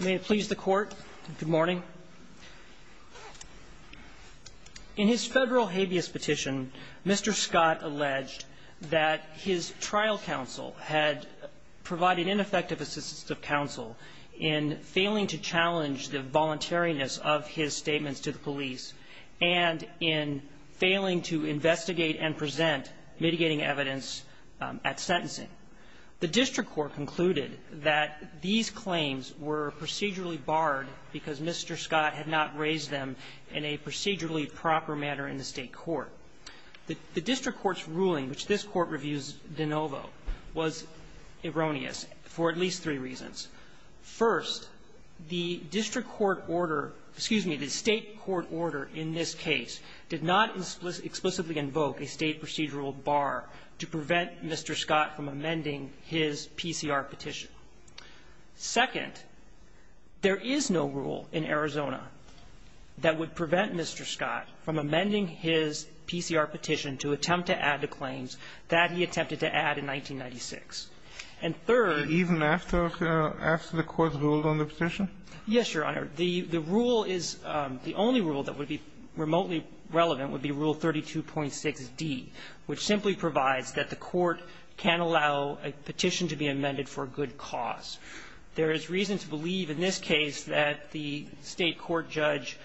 May it please the Court. Good morning. In his federal habeas petition, Mr. Scott alleged that his trial counsel had provided ineffective assistance of counsel in failing to challenge the voluntariness of his statements to the police and in failing to investigate and present mitigating evidence at sentencing. The district court concluded that these claims were procedurally barred because Mr. Scott had not raised them in a procedurally proper manner in the State court. The district court's ruling, which this Court reviews de novo, was erroneous for at least three reasons. First, the district court order excuse me, the State court order in this case did not explicitly invoke a State procedural bar to prevent Mr. Scott from amending his PCR petition. Second, there is no rule in Arizona that would prevent Mr. Scott from amending his PCR petition to attempt to add the claims that he attempted to add in 1996. And third ---- Even after the Court's rule on the petition? Yes, Your Honor. The rule is the only rule that would be remotely relevant would be Rule 32.6d, which simply provides that the Court can't allow a petition to be amended for a good cause. There is reason to believe in this case that the State court judge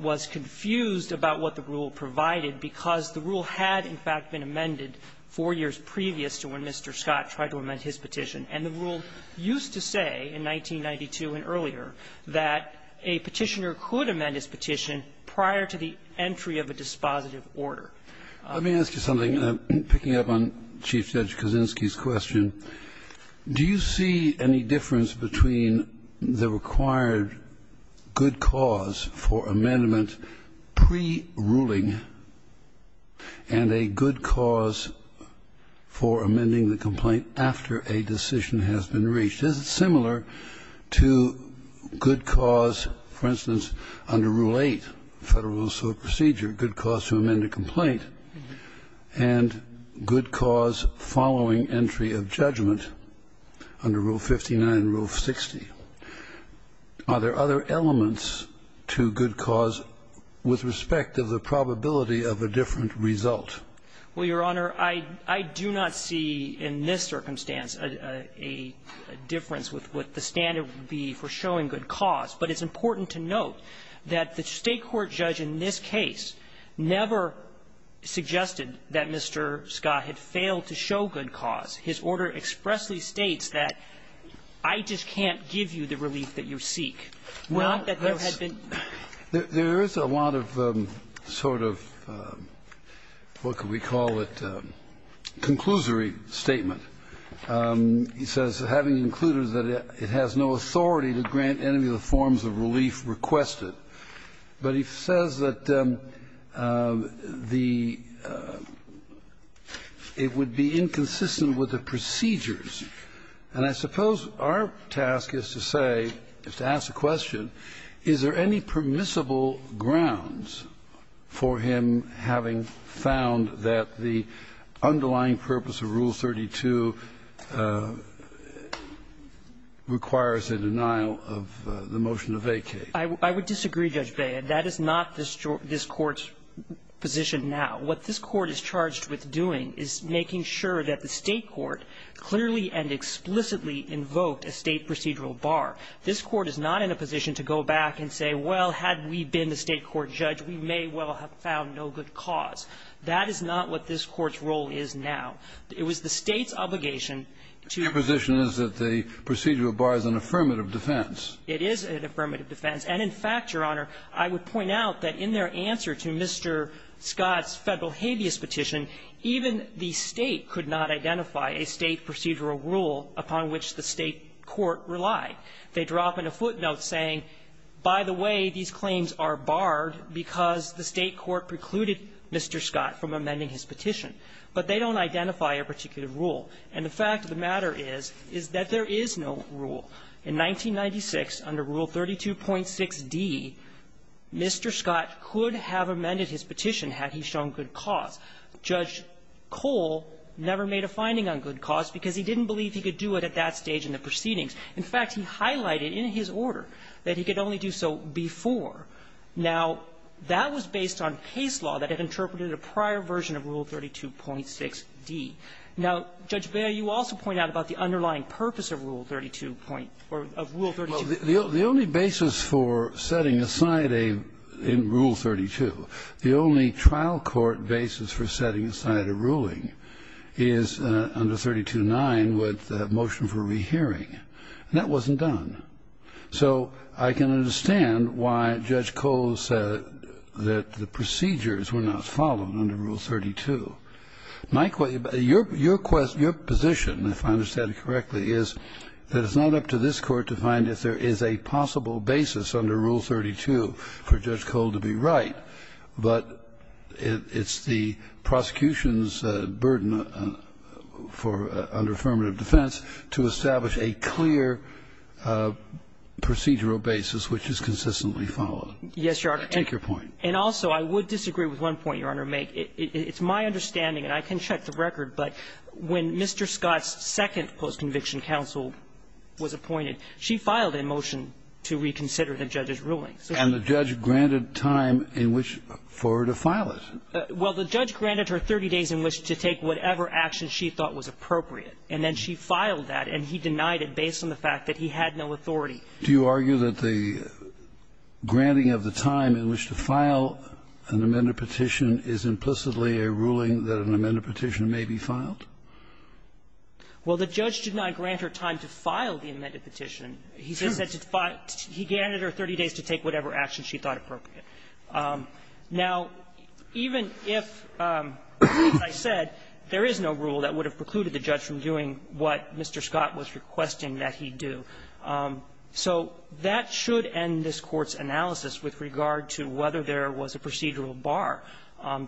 was confused about what the rule provided because the rule had, in fact, been amended four years previous to when Mr. Scott tried to amend his petition. And the rule used to say in 1992 and earlier that a petitioner could amend his petition prior to the entry of a dispositive order. Let me ask you something, picking up on Chief Judge Kuczynski's question. Do you see any difference between the required good cause for amendment pre-ruling and a good cause for amending the complaint after a decision has been reached? Is it similar to good cause, for instance, under Rule 8, Federal Rules of Procedure, good cause to amend a complaint, and good cause following entry of judgment under Rule 59 and Rule 60? Are there other elements to good cause with respect to the probability of a different result? Well, Your Honor, I do not see in this circumstance a difference with what the standard would be for showing good cause. But it's important to note that the State court judge in this case never suggested that Mr. Scott had failed to show good cause. His order expressly states that I just can't give you the relief that you seek, not that there had been any. There is a lot of sort of what could we call it, conclusory statement. He says, having included that it has no authority to grant any of the forms of relief requested. But he says that the – it would be inconsistent with the procedures. And I suppose our task is to say, is to ask the question, is there any permissible grounds for him having found that the underlying purpose of Rule 32 requires a denial of the motion to vacate? I would disagree, Judge Beyer. That is not this Court's position now. What this Court is charged with doing is making sure that the State court clearly and explicitly invoked a State procedural bar. This Court is not in a position to go back and say, well, had we been the State court judge, we may well have found no good cause. That is not what this Court's role is now. It was the State's obligation to – Your position is that the procedural bar is an affirmative defense. It is an affirmative defense. And in fact, Your Honor, I would point out that in their answer to Mr. Scott's Federal habeas petition, even the State could not identify a State procedural rule upon which the State court relied. They drop in a footnote saying, by the way, these claims are barred because the State court precluded Mr. Scott from amending his petition. But they don't identify a particular rule. And the fact of the matter is, is that there is no rule. In 1996, under Rule 32.6d, Mr. Scott could have amended his petition had he shown good cause. Judge Cole never made a finding on good cause because he didn't believe he could do it at that stage in the proceedings. In fact, he highlighted in his order that he could only do so before. Now, that was based on case law that had interpreted a prior version of Rule 32.6d. Now, Judge Bailiw, you also point out about the underlying purpose of Rule 32. Or of Rule 32. The only basis for setting aside a rule in Rule 32, the only trial court basis for setting aside a ruling is under 32.9 with the motion for rehearing. And that wasn't done. So I can understand why Judge Cole said that the procedures were not followed under Rule 32. My question, your position, if I understand it correctly, is that it's not up to this Court to find if there is a possible basis under Rule 32 for Judge Cole to be right, but it's the prosecution's burden for under affirmative defense to establish a clear procedural basis which is consistently followed. Yes, Your Honor. Take your point. And also, I would disagree with one point, Your Honor. It's my understanding, and I can check the record, but when Mr. Scott's second post-conviction counsel was appointed, she filed a motion to reconsider the judge's ruling. And the judge granted time in which for her to file it. Well, the judge granted her 30 days in which to take whatever action she thought was appropriate. And then she filed that, and he denied it based on the fact that he had no authority. Do you argue that the granting of the time in which to file an amended petition is implicitly a ruling that an amended petition may be filed? Well, the judge did not grant her time to file the amended petition. He said to file he granted her 30 days to take whatever action she thought appropriate. Now, even if, as I said, there is no rule that would have precluded the judge from doing what Mr. Scott was requesting that he do, so that should end this Court's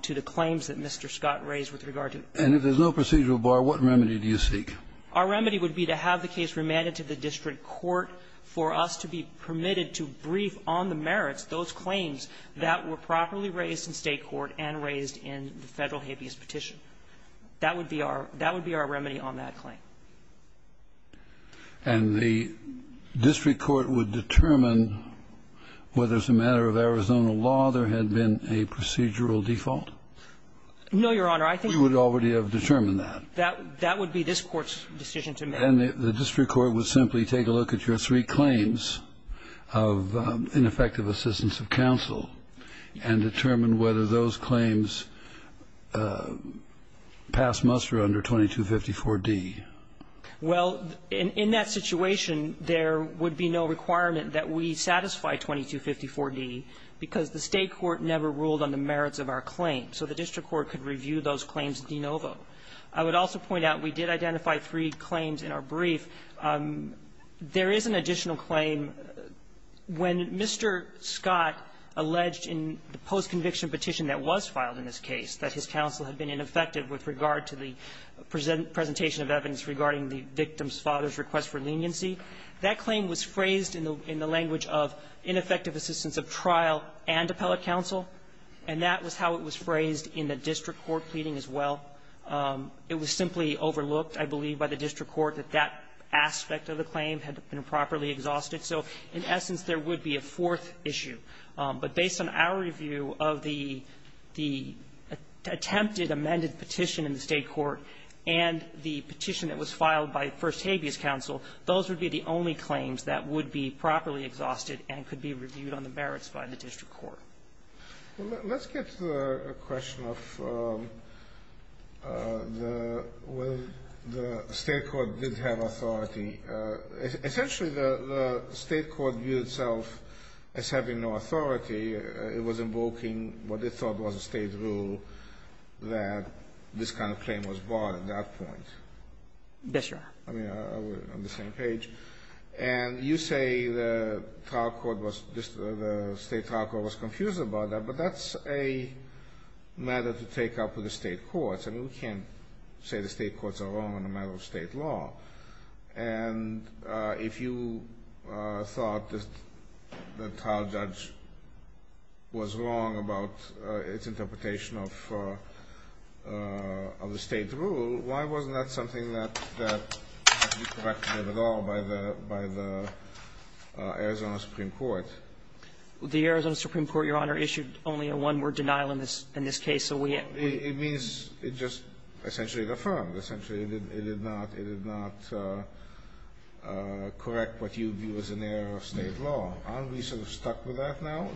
to the claims that Mr. Scott raised with regard to it. And if there's no procedural bar, what remedy do you seek? Our remedy would be to have the case remanded to the district court for us to be permitted to brief on the merits, those claims that were properly raised in State court and raised in the Federal habeas petition. That would be our remedy on that claim. And the district court would determine whether as a matter of Arizona law there had been a procedural default? No, Your Honor. I think we would already have determined that. That would be this Court's decision to make. And the district court would simply take a look at your three claims of ineffective assistance of counsel and determine whether those claims pass muster under 2254d. Well, in that situation, there would be no requirement that we satisfy 2254d, because the State court never ruled on the merits of our claim. So the district court could review those claims de novo. I would also point out we did identify three claims in our brief. There is an additional claim. When Mr. Scott alleged in the post-conviction petition that was filed in this case that his counsel had been ineffective with regard to the presentation of evidence regarding the victim's father's request for leniency, that claim was phrased in the language of ineffective assistance of trial and appellate counsel, and that was how it was phrased in the district court pleading as well. It was simply overlooked, I believe, by the district court that that aspect of the claim had been properly exhausted. So in essence, there would be a fourth issue. But based on our review of the attempted amended petition in the State court and the petition that was filed by First Habeas Counsel, those would be the only claims that would be properly exhausted and could be reviewed on the merits by the district court. Well, let's get to the question of whether the State court did have authority. Essentially, the State court viewed itself as having no authority. It was invoking what it thought was a State rule that this kind of claim was bought at that point. Yes, Your Honor. I mean, on the same page. And you say the trial court was just, the State trial court was confused about that, but that's a matter to take up with the State courts. I mean, we can't say the State courts are wrong on a matter of State law. And if you thought that the trial judge was wrong about its interpretation of the State rule, why wasn't that something that had to be corrected at all by the Arizona Supreme Court? The Arizona Supreme Court, Your Honor, issued only a one-word denial in this case. So we had to be able to correct it. It means it just essentially affirmed. Essentially, it did not correct what you view as an error of State law. Aren't we sort of stuck with that now?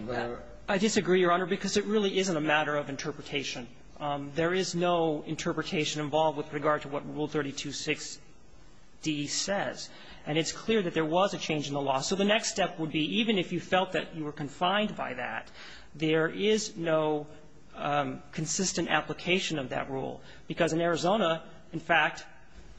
There is no interpretation involved with regard to what Rule 32.6d says. And it's clear that there was a change in the law. So the next step would be, even if you felt that you were confined by that, there is no consistent application of that rule, because in Arizona, in fact,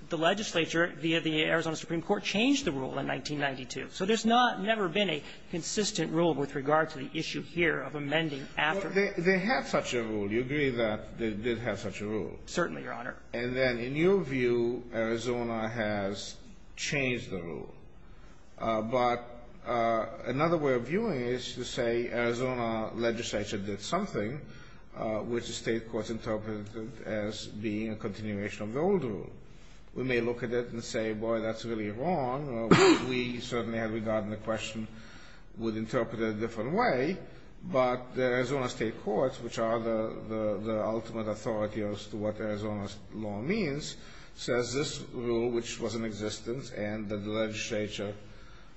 the legislature via the Arizona Supreme Court changed the rule in 1992. So there's not never been a consistent rule with regard to the issue here of amending after. They have such a rule. Do you agree that they did have such a rule? Certainly, Your Honor. And then in your view, Arizona has changed the rule. But another way of viewing it is to say Arizona legislature did something which the State courts interpreted as being a continuation of the old rule. We may look at it and say, boy, that's really wrong. We certainly had regarded the question, would interpret it a different way. But the Arizona State courts, which are the ultimate authority as to what Arizona law means, says this rule, which was in existence and that the legislature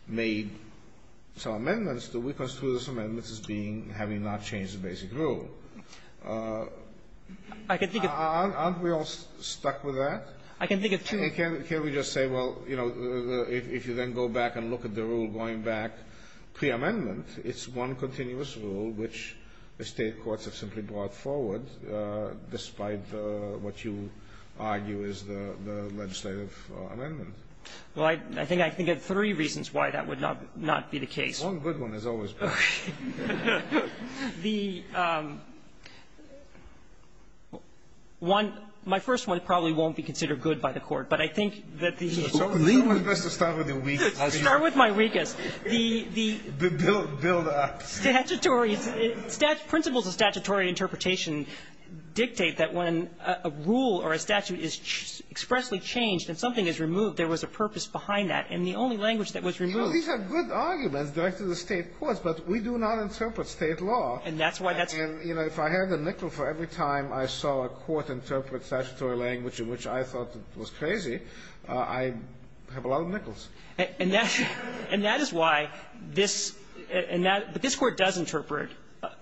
made some amendments to it, because two of those amendments is being, having not changed the basic rule. Aren't we all stuck with that? I can think of two. Can't we just say, well, you know, if you then go back and look at the rule going back, pre-amendment, it's one continuous rule which the State courts have simply brought forward, despite what you argue is the legislative amendment. Well, I think I can think of three reasons why that would not be the case. One good one has always been. The one, my first one probably won't be considered good by the Court, but I think that the ---- It's always best to start with your weak assumptions. The ---- Build-up. Statutory. Principles of statutory interpretation dictate that when a rule or a statute is expressly changed and something is removed, there was a purpose behind that. And the only language that was removed ---- These are good arguments directed to the State courts, but we do not interpret State law. And that's why that's ---- And, you know, if I had a nickel for every time I saw a court interpret statutory language in which I thought was crazy, I'd have a lot of nickels. And that's why this ---- and that ---- but this Court does interpret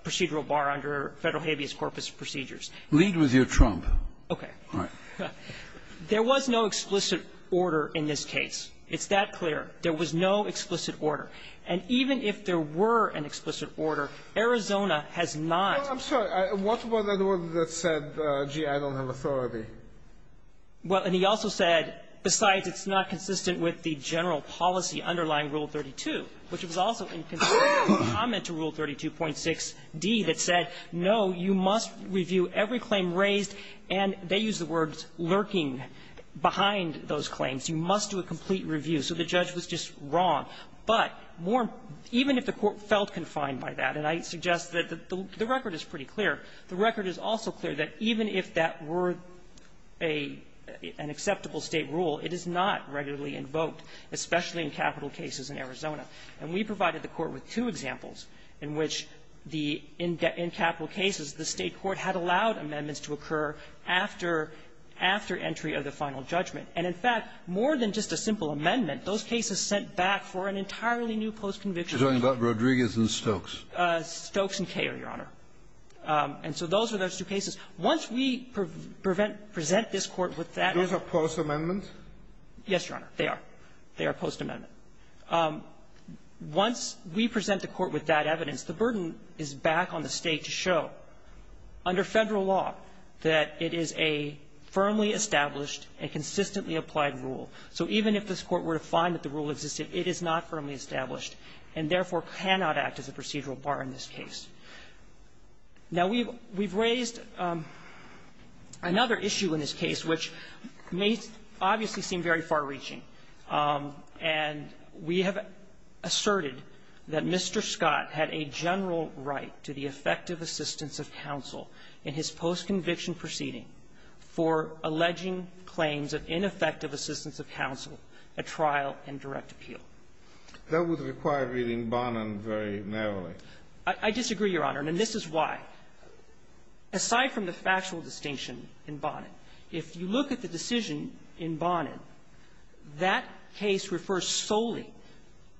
procedural bar under Federal habeas corpus procedures. Lead with your trump. Okay. All right. There was no explicit order in this case. It's that clear. There was no explicit order. And even if there were an explicit order, Arizona has not ---- I'm sorry. What was the word that said, gee, I don't have authority? Well, and he also said, besides it's not consistent with the general policy underlying Rule 32, which was also in consideration of the comment to Rule 32.6d that said, no, you must review every claim raised, and they use the words, lurking behind those claims. You must do a complete review. So the judge was just wrong. But more ---- even if the Court felt confined by that, and I suggest that the record is pretty clear, the record is also clear that even if that were a ---- an acceptable State rule, it is not regularly invoked, especially in capital cases in Arizona. And we provided the Court with two examples in which the ---- in capital cases, the State court had allowed amendments to occur after entry of the final judgment. And, in fact, more than just a simple amendment, those cases sent back for an entirely new postconviction. You're talking about Rodriguez and Stokes. Stokes and Koehler, Your Honor. And so those are those two cases. Once we prevent ---- present this Court with that evidence ---- Those are postamendments? Yes, Your Honor. They are. They are postamendment. Once we present the Court with that evidence, the burden is back on the State to show, under Federal law, that it is a firmly established and consistently applied rule. So even if this Court were to find that the rule existed, it is not firmly established and, therefore, cannot act as a procedural bar in this case. Now, we've raised another issue in this case, which may obviously seem very far-reaching. And we have asserted that Mr. Scott had a general right to the effective assistance of counsel in his postconviction proceeding for alleging claims of ineffective assistance of counsel at trial and direct appeal. That would require reading Bonin very narrowly. I disagree, Your Honor. And this is why. Aside from the factual distinction in Bonin, if you look at the decision in Bonin, that case refers solely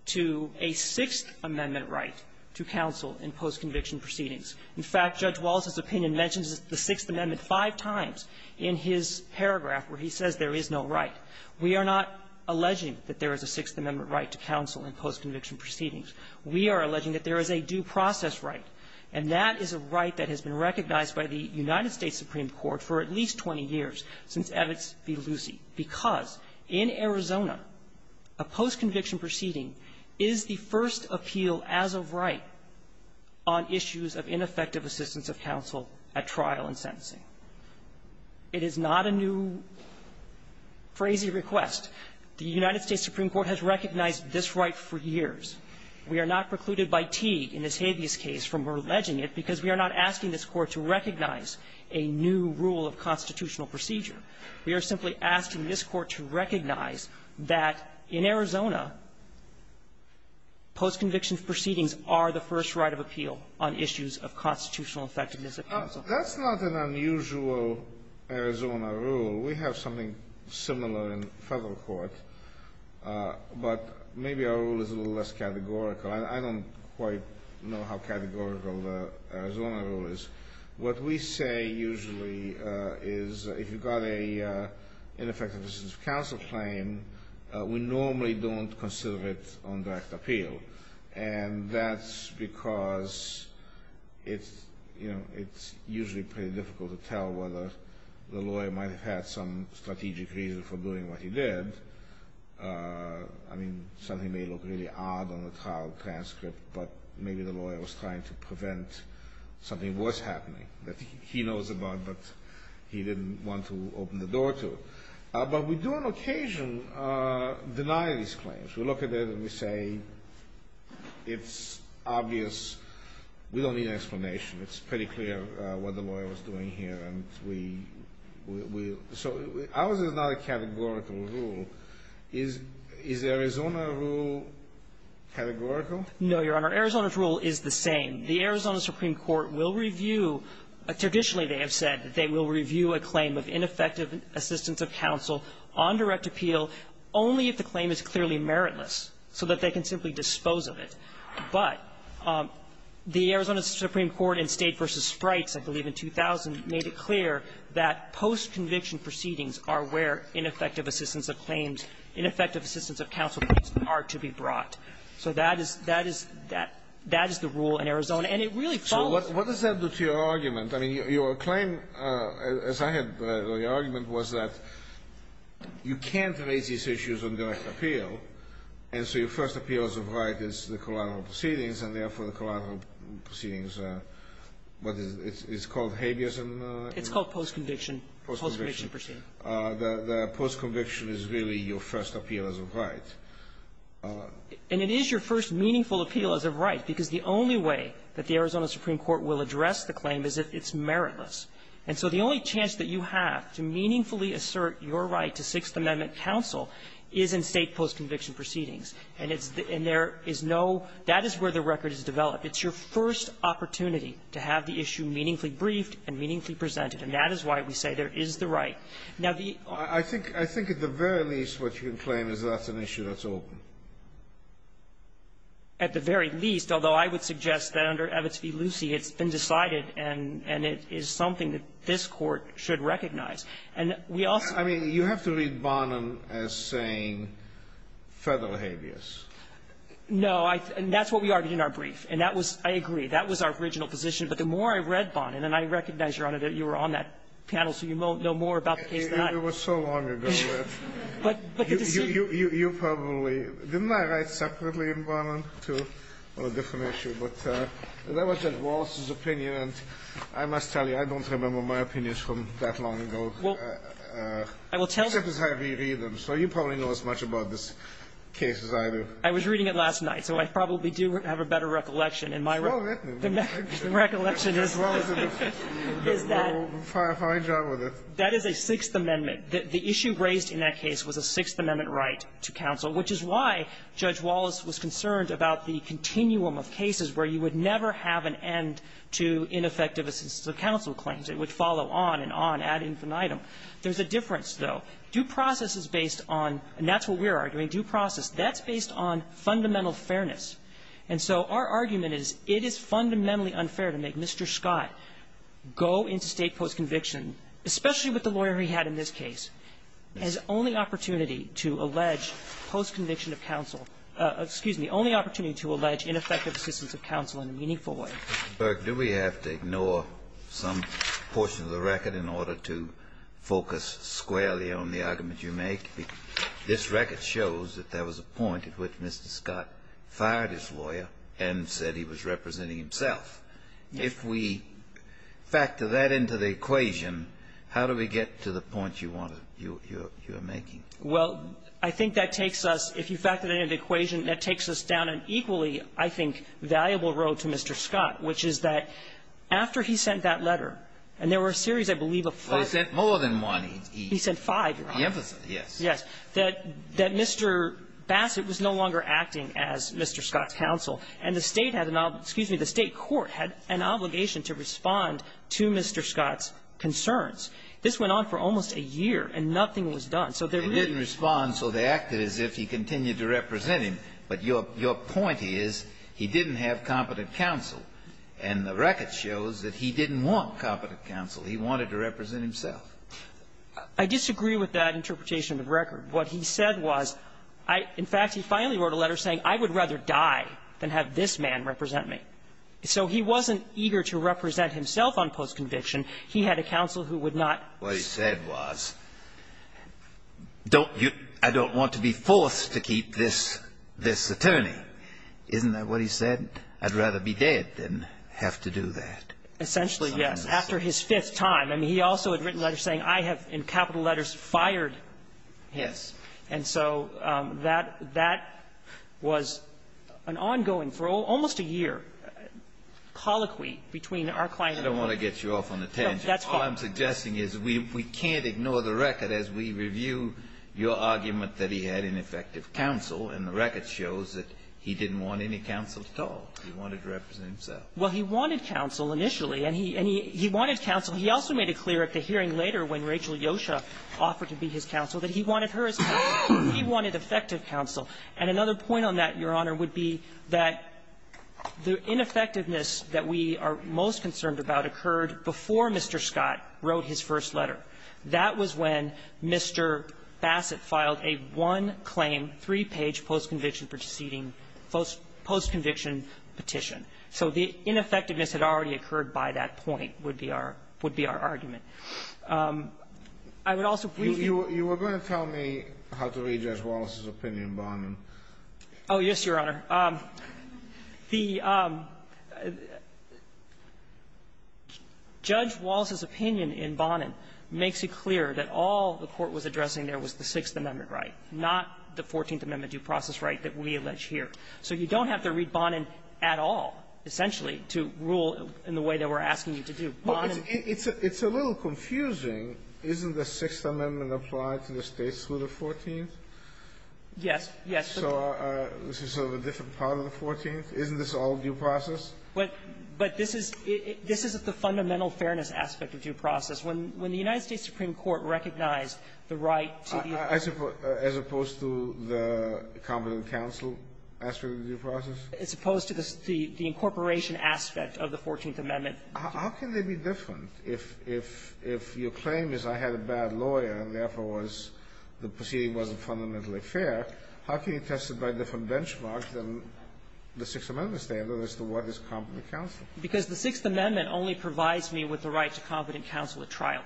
to a Sixth Amendment right to counsel in postconviction proceedings. In fact, Judge Wallace's opinion mentions the Sixth Amendment five times in his paragraph where he says there is no right. We are not alleging that there is a Sixth Amendment right to counsel in postconviction proceedings. We are alleging that there is a due process right, and that is a right that has been recognized by the United States Supreme Court for at least 20 years since Evitz v. Lucie, because in Arizona, a postconviction proceeding is the first appeal as of right on issues of ineffective assistance of counsel at trial and sentencing. It is not a new, crazy request. The United States Supreme Court has recognized this right for years. We are not precluded by Teague in this habeas case from alleging it because we are not asking this Court to recognize a new rule of constitutional procedure. We are simply asking this Court to recognize that in Arizona, postconviction proceedings are the first right of appeal on issues of constitutional effectiveness of counsel. That's not an unusual Arizona rule. We have something similar in federal court, but maybe our rule is a little less categorical. I don't quite know how categorical the Arizona rule is. What we say usually is if you've got a ineffective assistance of counsel claim, we normally don't consider it on direct appeal. And that's because it's usually pretty difficult to tell whether the lawyer might have had some strategic reason for doing what he did. I mean, something may look really odd on the trial transcript, but maybe the lawyer was trying to prevent something worse happening that he knows about but he didn't want to open the door to. But we do on occasion deny these claims. We look at it and we say it's obvious. We don't need an explanation. It's pretty clear what the lawyer was doing here. And we so ours is not a categorical rule. Is Arizona rule categorical? No, Your Honor. Arizona's rule is the same. The Arizona Supreme Court will review, traditionally they have said, that they will review a claim of ineffective assistance of counsel on direct appeal only if the claim is warrantless, so that they can simply dispose of it. But the Arizona Supreme Court in State v. Sprites, I believe in 2000, made it clear that post-conviction proceedings are where ineffective assistance of claims, ineffective assistance of counsel claims are to be brought. So that is the rule in Arizona. And it really follows the rule. So what does that do to your argument? I mean, your claim, as I had read, your argument was that you can't raise these issues on direct appeal, and so your first appeal as of right is the collateral proceedings, and therefore, the collateral proceedings, what is it, it's called habeas in the law? It's called post-conviction, post-conviction proceedings. The post-conviction is really your first appeal as of right. And it is your first meaningful appeal as of right, because the only way that the Arizona Supreme Court will address the claim is if it's meritless. And so the only chance that you have to meaningfully assert your right to Sixth Amendment counsel is in State post-conviction proceedings. And it's the – and there is no – that is where the record is developed. It's your first opportunity to have the issue meaningfully briefed and meaningfully presented. And that is why we say there is the right. Now, the – I think – I think at the very least, what you can claim is that's an issue that's open. At the very least, although I would suggest that under Evitz v. Lucie, it's been decided and – and it is something that this Court should recognize. And we also – I mean, you have to read Bonin as saying federal habeas. No. I – and that's what we argued in our brief. And that was – I agree. That was our original position. But the more I read Bonin – and I recognize, Your Honor, that you were on that panel, so you know more about the case than I. It was so long ago that you probably – didn't I write separately in Bonin, too? Well, a different issue. But that was at Walsh's opinion. And I must tell you, I don't remember my opinions from that long ago. Well, I will tell you – Except as I read them. So you probably know as much about this case as I do. I was reading it last night, so I probably do have a better recollection. And my – Well, then – The recollection is – Well, then, we'll find out with it. That is a Sixth Amendment. The issue raised in that case was a Sixth Amendment right to counsel, which is why Judge Wallace was concerned about the continuum of cases where you would never have an end to ineffective assistance of counsel claims. It would follow on and on, ad infinitum. There's a difference, though. Due process is based on – and that's what we're arguing, due process. That's based on fundamental fairness. And so our argument is it is fundamentally unfair to make Mr. Scott go into State post-conviction, especially with the lawyer he had in this case, his only opportunity to allege post-conviction of counsel – excuse me, only opportunity to allege ineffective assistance of counsel in a meaningful way. Kennedy, do we have to ignore some portion of the record in order to focus squarely on the argument you make? This record shows that there was a point at which Mr. Scott fired his lawyer and said he was representing himself. If we factor that into the equation, how do we get to the point you want to – you are making? Well, I think that takes us – if you factor that into the equation, that takes us down an equally, I think, valuable road to Mr. Scott, which is that after he sent that letter, and there were a series, I believe, of five – Well, he sent more than one. He sent five, Your Honor. The opposite, yes. Yes. That Mr. Bassett was no longer acting as Mr. Scott's counsel, and the State had an – excuse me, the State court had an obligation to respond to Mr. Scott's concerns. This went on for almost a year, and nothing was done. So there really – They didn't respond, so they acted as if he continued to represent him. But your point is he didn't have competent counsel, and the record shows that he didn't want competent counsel. He wanted to represent himself. I disagree with that interpretation of the record. What he said was – in fact, he finally wrote a letter saying, I would rather die than have this man represent me. So he wasn't eager to represent himself on post-conviction. He had a counsel who would not – What he said was, don't you – I don't want to be forced to keep this attorney. Isn't that what he said? I'd rather be dead than have to do that. Essentially, yes. After his fifth time. I mean, he also had written letters saying, I have, in capital letters, fired him. Yes. And so that was an ongoing, for almost a year, colloquy between our client and – No, that's fine. All I'm suggesting is we can't ignore the record as we review your argument that he had ineffective counsel, and the record shows that he didn't want any counsel at all. He wanted to represent himself. Well, he wanted counsel initially, and he – and he wanted counsel. He also made it clear at the hearing later when Rachel Yosha offered to be his counsel that he wanted her as counsel. He wanted effective counsel. And another point on that, Your Honor, would be that the ineffectiveness that we are most concerned about occurred before Mr. Scott wrote his first letter. That was when Mr. Bassett filed a one-claim, three-page post-conviction proceeding – post-conviction petition. So the ineffectiveness had already occurred by that point, would be our argument. I would also briefly – You were going to tell me how to read Judge Wallace's opinion, Barnum. Oh, yes, Your Honor. The – Judge Wallace's opinion in Barnum makes it clear that all the court was addressing there was the Sixth Amendment right, not the Fourteenth Amendment due process right that we allege here. So you don't have to read Barnum at all, essentially, to rule in the way that we're asking you to do. Barnum – Well, it's – it's a little confusing. Isn't the Sixth Amendment applied to the States through the Fourteenth? Yes. Yes. So this is sort of a different part of the Fourteenth? Isn't this all due process? But – but this is – this is the fundamental fairness aspect of due process. When – when the United States Supreme Court recognized the right to the – I suppose – as opposed to the competent counsel aspect of the due process? As opposed to the – the incorporation aspect of the Fourteenth Amendment. How can they be different if – if – if your claim is I had a bad lawyer and, therefore, was – the proceeding wasn't fundamentally fair, how can you test it by different benchmarks than the Sixth Amendment standard as to what is competent counsel? Because the Sixth Amendment only provides me with the right to competent counsel at trial,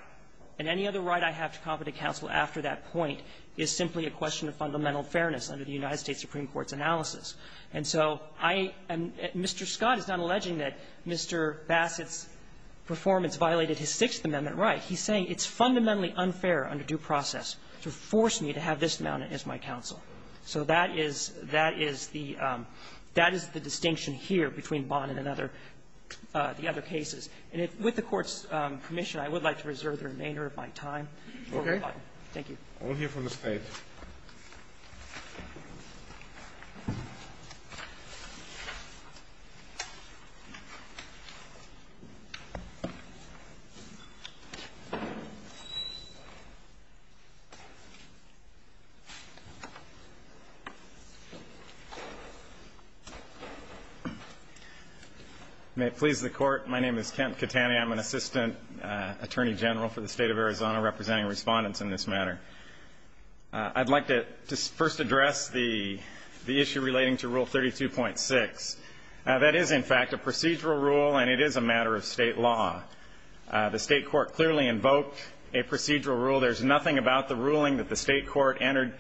and any other right I have to competent counsel after that point is simply a question of fundamental fairness under the United States Supreme Court's analysis. And so I am – Mr. Scott is not alleging that Mr. Bassett's performance violated his Sixth Amendment right. He's saying it's fundamentally unfair under due process to force me to have this amount as my counsel. So that is – that is the – that is the distinction here between Bonin and other – the other cases. And with the Court's permission, I would like to reserve the remainder of my time for rebuttal. Thank you. I will hear from the State. May it please the Court, my name is Kent Catani. I'm an Assistant Attorney General for the State of Arizona, representing respondents in this matter. I'd like to first address the issue relating to Rule 32.6. That is, in fact, a procedural rule, and it is a matter of State law. The State court clearly invoked a procedural rule. There's nothing about the ruling that the State court entered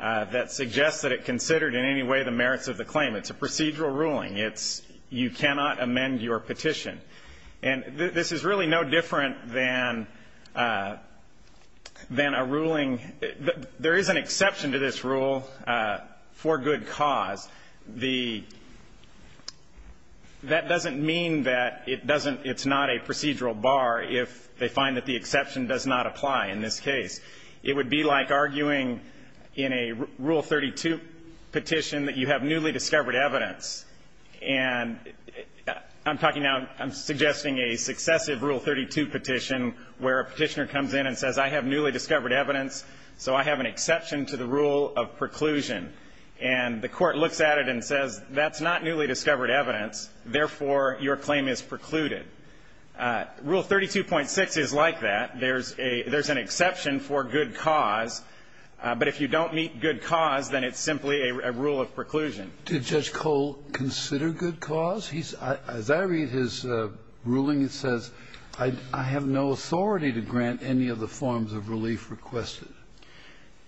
that suggests that it considered in any way the merits of the claim. It's a procedural ruling. It's – you cannot amend your petition. And this is really no different than – than a ruling – there is an exception to this rule for good cause. The – that doesn't mean that it doesn't – it's not a procedural bar if they find that the exception does not apply in this case. It would be like arguing in a Rule 32 petition that you have newly discovered evidence. And I'm talking now – I'm suggesting a successive Rule 32 petition where a petitioner comes in and says, I have newly discovered evidence, so I have an exception to the rule of preclusion. And the court looks at it and says, that's not newly discovered evidence, therefore, your claim is precluded. Rule 32.6 is like that. There's a – there's an exception for good cause, but if you don't meet good cause, then it's simply a rule of preclusion. Kennedy, did Judge Cole consider good cause? He's – as I read his ruling, it says, I have no authority to grant any of the forms of relief requested.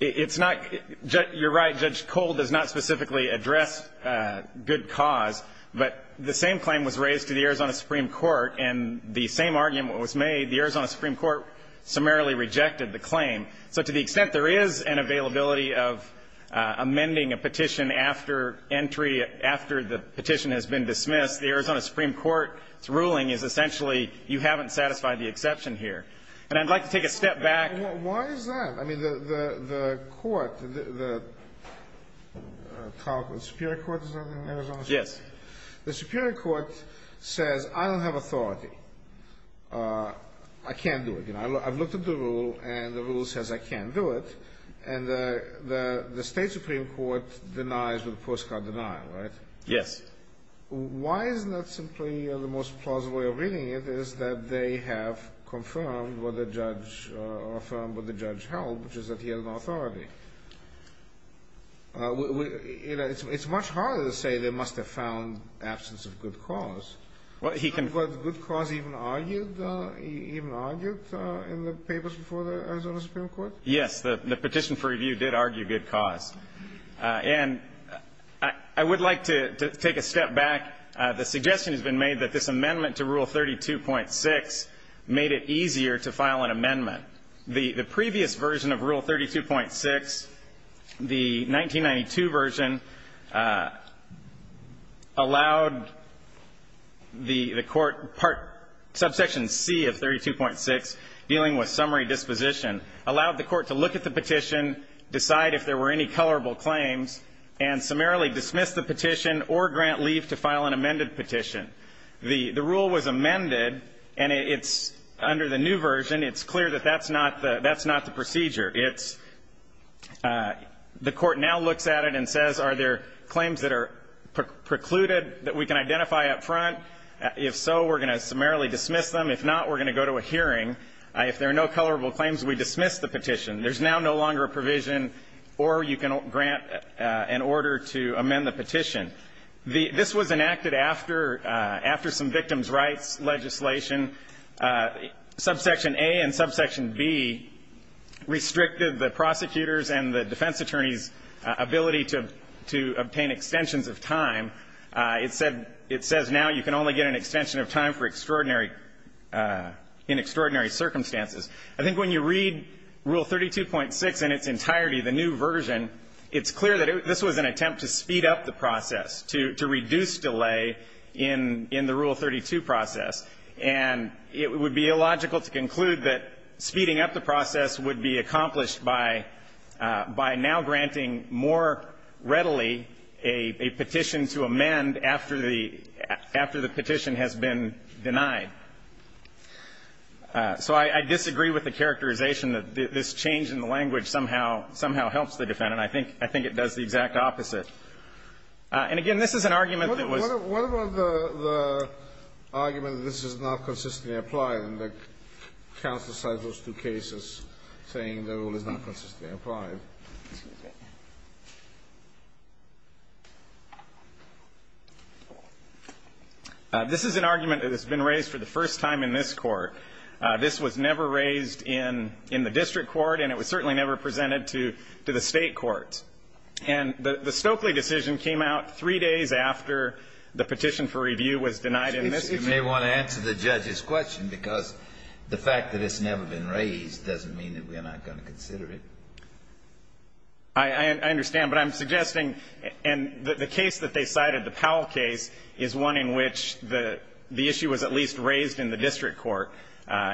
It's not – you're right, Judge Cole does not specifically address good cause. But the same claim was raised to the Arizona Supreme Court, and the same argument was made. The Arizona Supreme Court summarily rejected the claim. So to the extent there is an availability of amending a petition after entry, after the petition has been dismissed, the Arizona Supreme Court's ruling is essentially you haven't satisfied the exception here. And I'd like to take a step back. Why is that? I mean, the court, the – the Superior Court, is that the name of the court? Yes. The Superior Court says, I don't have authority. I can't do it. I've looked at the rule, and the rule says I can't do it. And the State Supreme Court denies with a postcard denial, right? Yes. Why is that simply the most plausible way of reading it is that they have confirmed what the judge – or affirmed what the judge held, which is that he has no authority. You know, it's much harder to say they must have found absence of good cause. Well, he can – Was good cause even argued in the papers before the Arizona Supreme Court? Yes. The petition for review did argue good cause. And I would like to take a step back. The suggestion has been made that this amendment to Rule 32.6 made it easier to file an amendment. The previous version of Rule 32.6, the 1992 version, allowed the court – subsection C of 32.6, dealing with summary disposition, allowed the court to look at the petition, decide if there were any colorable claims, and summarily dismiss the petition or grant leave to file an amended petition. The rule was amended, and it's – under the new version, it's clear that that's not the – that's not the procedure. It's – the court now looks at it and says, are there claims that are precluded that we can identify up front? If so, we're going to summarily dismiss them. If not, we're going to go to a hearing. If there are no colorable claims, we dismiss the petition. There's now no longer a provision or you can grant an order to amend the petition. The – this was enacted after – after some victims' rights legislation. Subsection A and subsection B restricted the prosecutor's and the defense attorney's ability to – to obtain extensions of time. It said – it says now you can only get an extension of time for extraordinary – in extraordinary circumstances. I think when you read Rule 32.6 in its entirety, the new version, it's clear that this was an attempt to speed up the process, to reduce delay in the Rule 32 process. And it would be illogical to conclude that speeding up the process would be accomplished by now granting more readily a petition to amend after the – after the petition has been denied. So I disagree with the characterization that this change in the language somehow helps the defendant. I think – I think it does the exact opposite. And again, this is an argument that was – What about the – the argument that this is not consistently applied and that counsel cited those two cases saying the rule is not consistently applied? This is an argument that has been raised for the first time in this Court. This was never raised in – in the district court and it was certainly never presented to – to the state courts. And the – the Stokely decision came out three days after the petition for review was denied in this case. You may want to answer the judge's question because the fact that it's never been raised doesn't mean that we're not going to consider it. I – I understand. But I'm suggesting – and the case that they cited, the Powell case, is one in which the – the issue was at least raised in the district court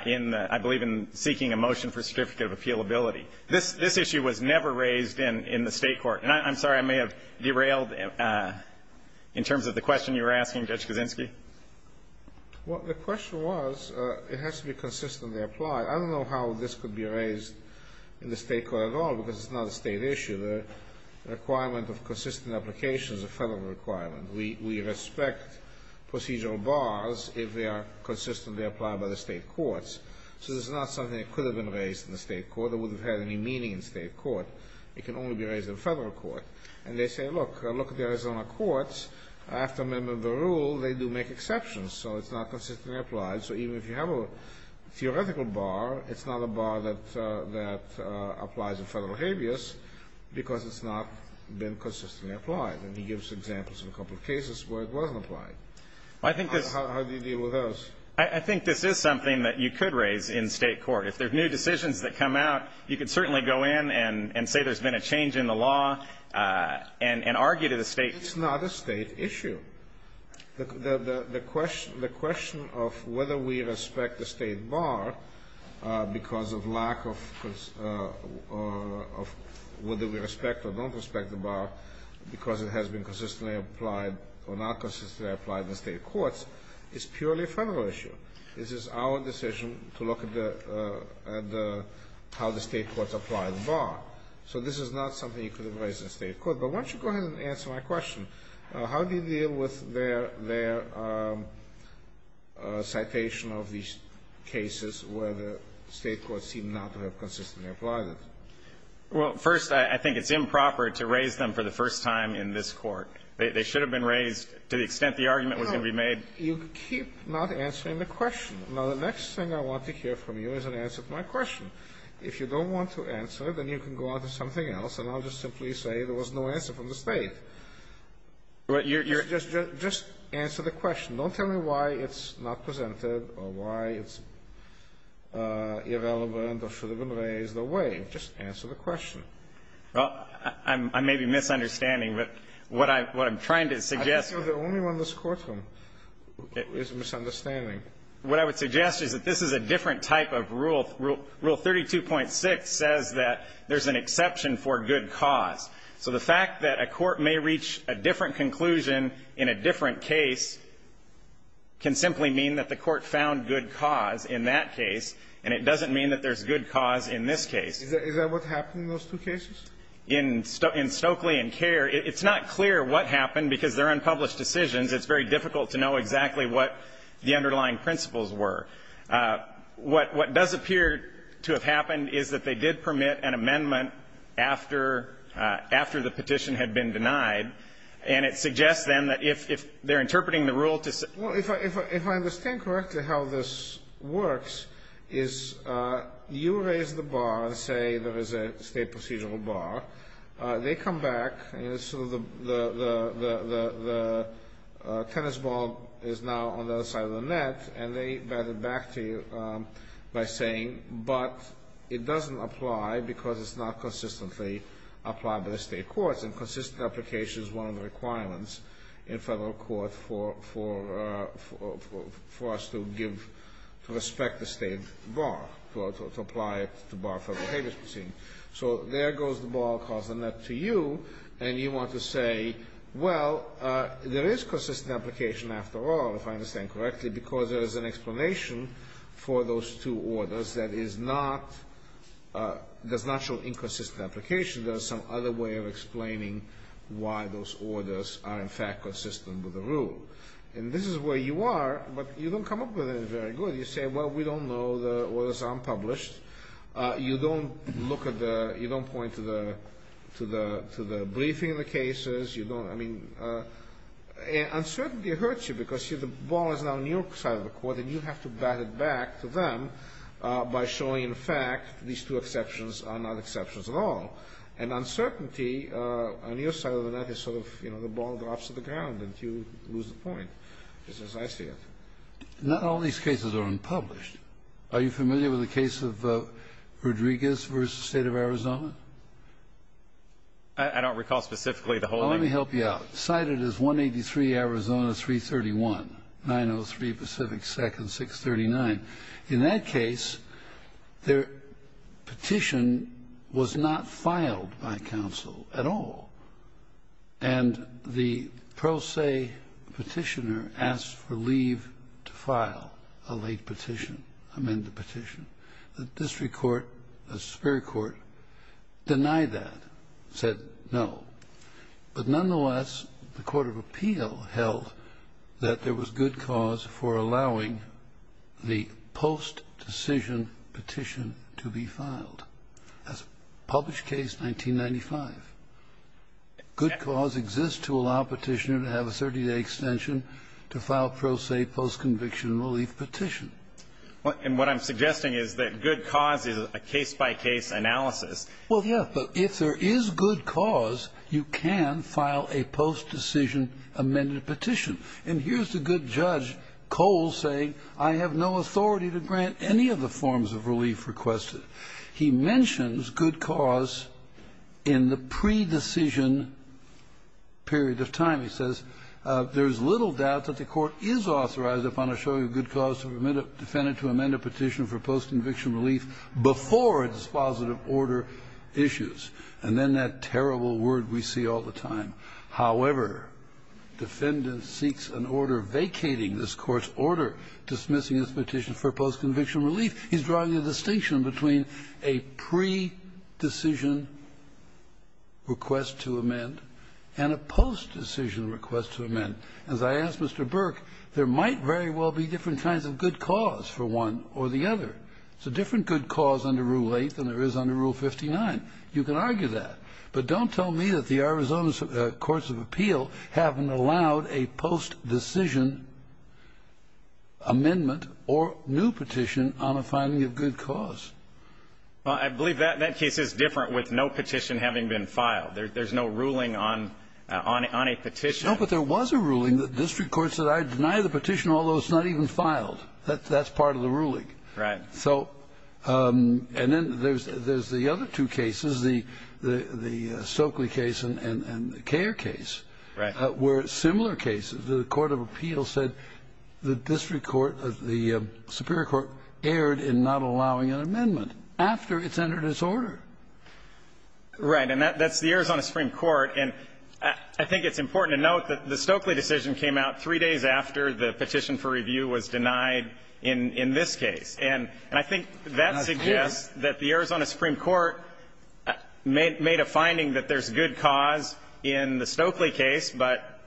in the – I believe in seeking a motion for certificate of appealability. This – this issue was never raised in – in the state court. And I'm sorry, I may have derailed in terms of the question you were asking, Judge Kaczynski. Well, the question was it has to be consistently applied. I don't know how this could be raised in the state court at all because it's not a state issue. The requirement of consistent application is a federal requirement. We – we respect procedural bars if they are consistently applied by the state courts. So this is not something that could have been raised in the state court. It wouldn't have had any meaning in state court. It can only be raised in federal court. And they say, look, look at the Arizona courts. After amendment of the rule, they do make exceptions. So it's not consistently applied. So even if you have a theoretical bar, it's not a bar that – that applies in federal habeas because it's not been consistently applied. And he gives examples of a couple of cases where it wasn't applied. Well, I think this – How do you deal with those? I think this is something that you could raise in state court. If there are new decisions that come out, you could certainly go in and – and say there's been a change in the law and – and argue to the state – It's not a state issue. The – the question – the question of whether we respect the state bar because of lack of – of whether we respect or don't respect the bar because it has been consistently applied or not consistently applied in the state courts is purely a federal issue. This is our decision to look at the – at the – how the state courts apply the bar. So this is not something you could have raised in state court. But why don't you go ahead and answer my question? How do you deal with their – their citation of these cases where the state courts seem not to have consistently applied it? Well, first, I – I think it's improper to raise them for the first time in this court. They – they should have been raised to the extent the argument was going to be made. No. You keep not answering the question. Now, the next thing I want to hear from you is an answer to my question. If you don't want to answer, then you can go on to something else, and I'll just simply say there was no answer from the state. But you're – you're – Just – just answer the question. Don't tell me why it's not presented or why it's irrelevant or should have been raised or waived. Just answer the question. Well, I'm – I may be misunderstanding, but what I – what I'm trying to suggest – I think you're the only one in this courtroom who is misunderstanding. What I would suggest is that this is a different type of rule. Rule 32.6 says that there's an exception for good cause. So the fact that a court may reach a different conclusion in a different case can simply mean that the court found good cause in that case, and it doesn't mean that there's good cause in this case. Is that what happened in those two cases? In – in Stokely and Kerr, it's not clear what happened because they're unpublished decisions. It's very difficult to know exactly what the underlying principles were. What – what does appear to have happened is that they did permit an amendment after – after the petition had been denied, and it suggests then that if – if they're interpreting the rule to – Well, if I – if I understand correctly how this works is you raise the bar and say there is a state procedural bar. They come back, and so the – the tennis ball is now on the other side of the net, and they bat it back to you by saying, but it doesn't apply because it's not consistently applied by the state courts, and consistent application is one of the requirements in federal court for – for – for us to give – to respect the state bar, to apply it to bar federal behavior proceedings. So there goes the ball across the net to you, and you want to say, well, there is consistent application after all, if I understand correctly, because there is an explanation for those two orders that is not – does not show inconsistent application. There is some other way of explaining why those orders are in fact consistent with the rule. And this is where you are, but you don't come up with it very good. You say, well, we don't know. The orders are unpublished. You don't look at the – you don't point to the – to the – to the briefing of the cases. You don't – I mean, uncertainty hurts you because the ball is now on your side of the court, and you have to bat it back to them by showing, in fact, these two exceptions are not exceptions at all. And uncertainty on your side of the net is sort of, you know, the ball drops to the ground, and you lose the point, just as I see it. Not all these cases are unpublished. Are you familiar with the case of Rodriguez v. State of Arizona? I don't recall specifically the whole name. Well, let me help you out. Cited as 183 Arizona 331, 903 Pacific 2nd, 639. In that case, their petition was not filed by counsel at all. And the pro se petitioner asked for leave to file a late petition, amend the petition. The district court, the superior court, denied that, said no. But nonetheless, the court of appeal held that there was good cause for allowing the post-decision petition to be filed. That's published case 1995. Good cause exists to allow a petitioner to have a 30-day extension to file pro se post-conviction relief petition. And what I'm suggesting is that good cause is a case-by-case analysis. Well, yeah, but if there is good cause, you can file a post-decision amended petition. And here's the good judge, Cole, saying, I have no authority to grant any of the forms of relief requested. He mentions good cause in the pre-decision period of time. He says, there's little doubt that the court is authorized upon a show of good cause to amend a petition for post-conviction relief before a dispositive order issues. And then that terrible word we see all the time. However, defendant seeks an order vacating this court's order dismissing this petition for post-conviction relief. He's drawing a distinction between a pre-decision request to amend and a post-decision request to amend. As I asked Mr. Burke, there might very well be different kinds of good cause for one or the other. There's a different good cause under Rule 8 than there is under Rule 59. You can argue that. But don't tell me that the Arizona Courts of Appeal haven't allowed a post-decision amendment or new petition on a finding of good cause. Well, I believe that case is different with no petition having been filed. There's no ruling on a petition. No, but there was a ruling. The district court said, I deny the petition, although it's not even filed. That's part of the ruling. Right. So and then there's the other two cases, the Stokely case and the Kare case. Right. Where similar cases, the court of appeals said the district court, the superior court erred in not allowing an amendment after it's entered its order. Right. And that's the Arizona Supreme Court. And I think it's important to note that the Stokely decision came out three days after the petition for review was denied in this case. And I think that suggests that the Arizona Supreme Court made a finding that there's good cause in the Stokely case, but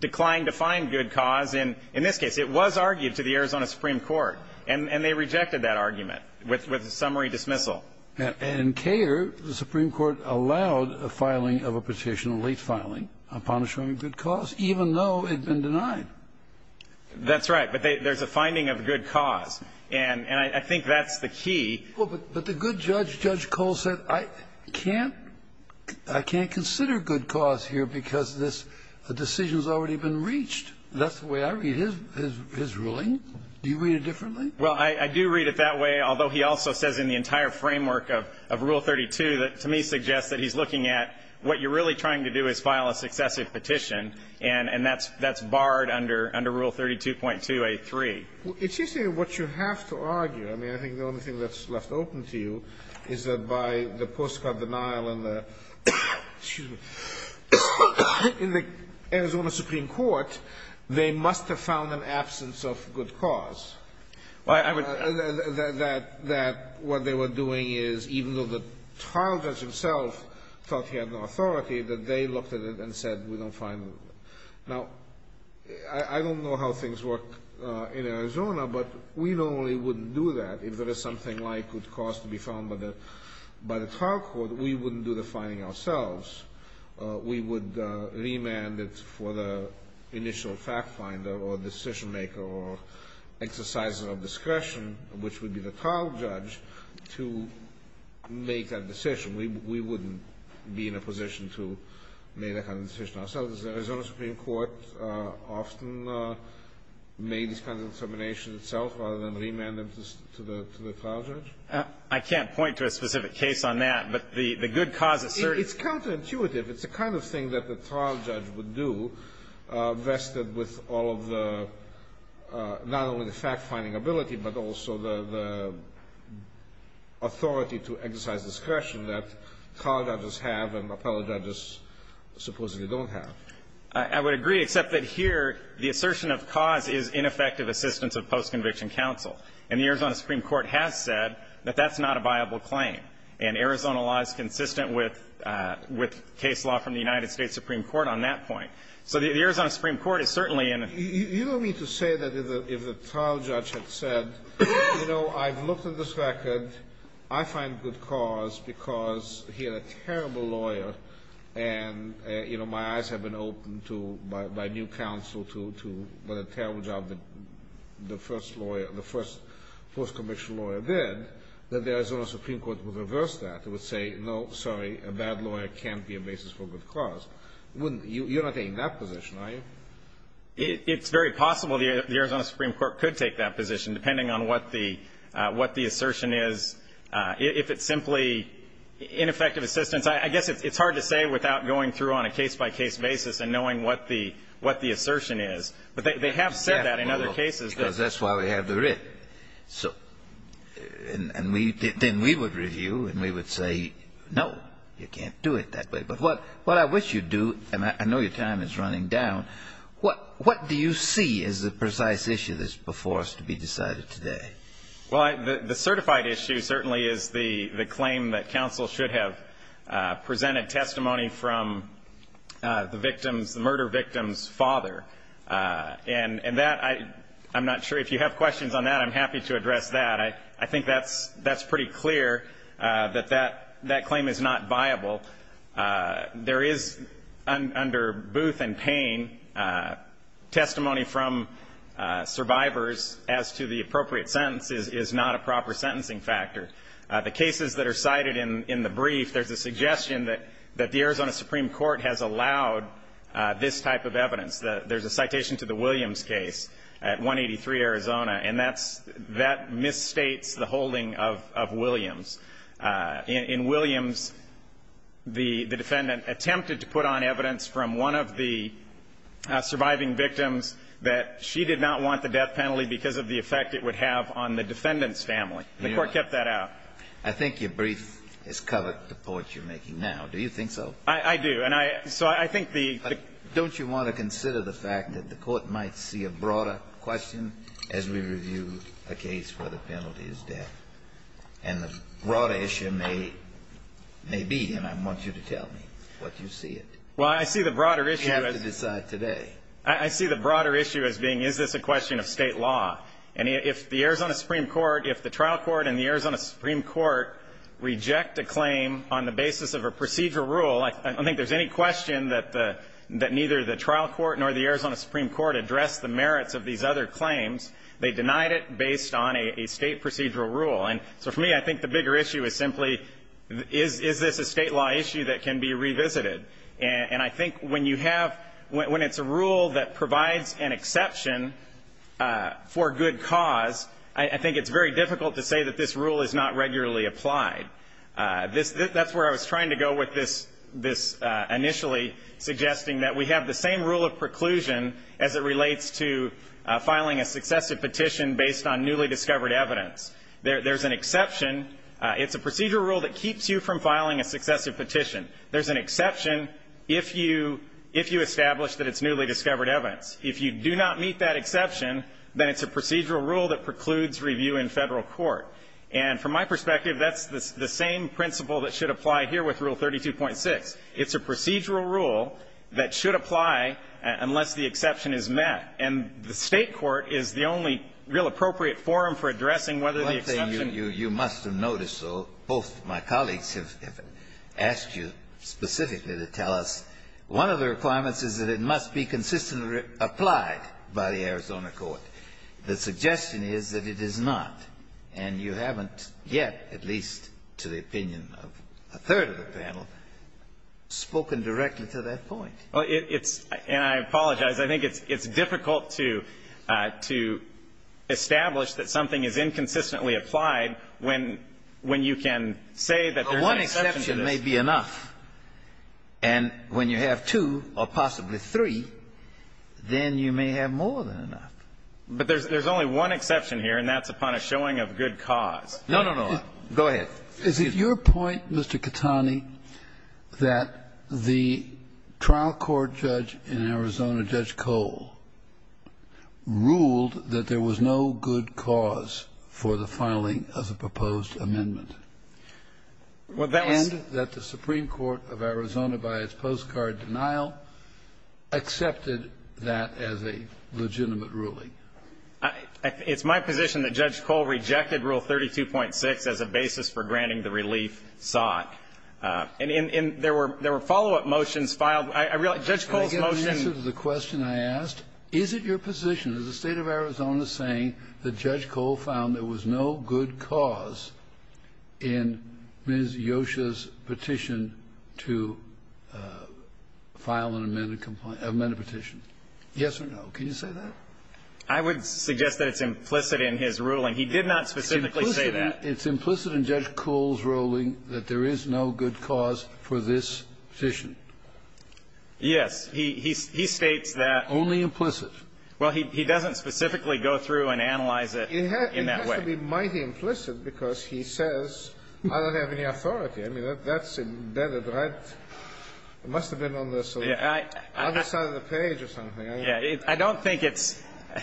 declined to find good cause in this case. It was argued to the Arizona Supreme Court. And they rejected that argument with a summary dismissal. And in Kare, the Supreme Court allowed a filing of a petition, a late filing, upon assuring good cause, even though it had been denied. That's right. But there's a finding of good cause. And I think that's the key. But the good judge, Judge Cole, said, I can't consider good cause here because this decision has already been reached. That's the way I read his ruling. Do you read it differently? Well, I do read it that way, although he also says in the entire framework of Rule 32 that to me suggests that he's looking at what you're really trying to do is file a successive petition. And that's barred under Rule 32.2a.3. It's interesting what you have to argue. I mean, I think the only thing that's left open to you is that by the postcard denial in the Arizona Supreme Court, they must have found an absence of good cause. That what they were doing is, even though the trial judge himself thought he had no authority, that they looked at it and said, we don't find it. Now, I don't know how things work in Arizona, but we normally wouldn't do that. If there is something like good cause to be found by the trial court, we wouldn't do the filing ourselves. We would remand it for the initial fact finder or decision maker or exerciser of discretion, which would be the trial judge, to make that decision. We wouldn't be in a position to make that kind of decision ourselves. Does the Arizona Supreme Court often make these kinds of determinations itself rather than remand them to the trial judge? I can't point to a specific case on that, but the good cause asserts It's counterintuitive. It's the kind of thing that the trial judge would do, vested with all of the not only the fact-finding ability, but also the authority to exercise discretion that trial judges have and appellate judges supposedly don't have. I would agree, except that here the assertion of cause is ineffective assistance of post-conviction counsel. And the Arizona Supreme Court has said that that's not a viable claim. And Arizona law is consistent with case law from the United States Supreme Court on that point. So the Arizona Supreme Court is certainly in a You don't mean to say that if the trial judge had said, you know, I've looked at this record. I find good cause because he had a terrible lawyer and, you know, my eyes have been opened to, by new counsel, to the terrible job that the first lawyer, the first post-conviction lawyer did. That the Arizona Supreme Court would reverse that. It would say, no, sorry, a bad lawyer can't be a basis for good cause. You're not taking that position, are you? It's very possible the Arizona Supreme Court could take that position, depending on what the assertion is. If it's simply ineffective assistance, I guess it's hard to say without going through on a case-by-case basis and knowing what the assertion is. But they have said that in other cases. Because that's why we have the writ. So, and then we would review and we would say, no, you can't do it that way. But what I wish you'd do, and I know your time is running down, what do you see as the precise issue that's before us to be decided today? Well, the certified issue certainly is the claim that counsel should have presented testimony from the victim's, the murder victim's father. And that, I'm not sure if you have questions on that. I'm happy to address that. I think that's pretty clear that that claim is not viable. There is, under Booth and Payne, testimony from survivors as to the appropriate sentence is not a proper sentencing factor. The cases that are cited in the brief, there's a suggestion that the Arizona Supreme Court has allowed this type of evidence. There's a citation to the Williams case at 183 Arizona. And that misstates the holding of Williams. In Williams, the defendant attempted to put on evidence from one of the surviving victims that she did not want the death penalty because of the effect it would have on the defendant's family. The Court kept that out. I think your brief has covered the point you're making now. Do you think so? I do. And so I think the ---- Don't you want to consider the fact that the Court might see a broader question as we review a case where the penalty is death? And the broader issue may be, and I want you to tell me what you see it. Well, I see the broader issue as ---- You have to decide today. I see the broader issue as being, is this a question of State law? And if the Arizona Supreme Court, if the trial court and the Arizona Supreme Court reject a claim on the basis of a procedural rule, I don't think there's any question that neither the trial court nor the Arizona Supreme Court address the merits of these other claims. They denied it based on a State procedural rule. And so for me, I think the bigger issue is simply, is this a State law issue that can be revisited? And I think when you have ---- when it's a rule that provides an exception for good cause, I think it's very difficult to say that this rule is not regularly applied. That's where I was trying to go with this initially, suggesting that we have the same rule of preclusion as it relates to filing a successive petition based on newly discovered evidence. There's an exception. It's a procedural rule that keeps you from filing a successive petition. There's an exception if you establish that it's newly discovered evidence. If you do not meet that exception, then it's a procedural rule that precludes review in Federal court. And from my perspective, that's the same principle that should apply here with Rule 32.6. It's a procedural rule that should apply unless the exception is met. And the State court is the only real appropriate forum for addressing whether the exception ---- Kennedy, you must have noticed, though, both my colleagues have asked you specifically to tell us one of the requirements is that it must be consistently applied by the Arizona court. The suggestion is that it is not. And you haven't yet, at least to the opinion of a third of the panel, spoken directly to that point. Well, it's ---- and I apologize. I think it's difficult to establish that something is inconsistently applied when you can say that there's an exception to this. If you have enough and when you have two or possibly three, then you may have more than enough. But there's only one exception here, and that's upon a showing of good cause. No, no, no. Go ahead. Is it your point, Mr. Catani, that the trial court judge in Arizona, Judge Cole, ruled that there was no good cause for the filing of the proposed amendment? Well, that was ---- And that the Supreme Court of Arizona, by its postcard denial, accepted that as a legitimate ruling? It's my position that Judge Cole rejected Rule 32.6 as a basis for granting the relief sought. And there were follow-up motions filed. I realize Judge Cole's motion ---- Can I get an answer to the question I asked? Is it your position, is the State of Arizona saying that Judge Cole found there was no good cause in Ms. Yosha's petition to file an amended ---- amended petition? Yes or no? Can you say that? I would suggest that it's implicit in his ruling. He did not specifically say that. It's implicit in Judge Cole's ruling that there is no good cause for this petition. Yes. He states that ---- Well, he doesn't specifically go through and analyze it in that way. It has to be mighty implicit because he says, I don't have any authority. I mean, that's embedded, right? It must have been on the other side of the page or something. I don't think it's ----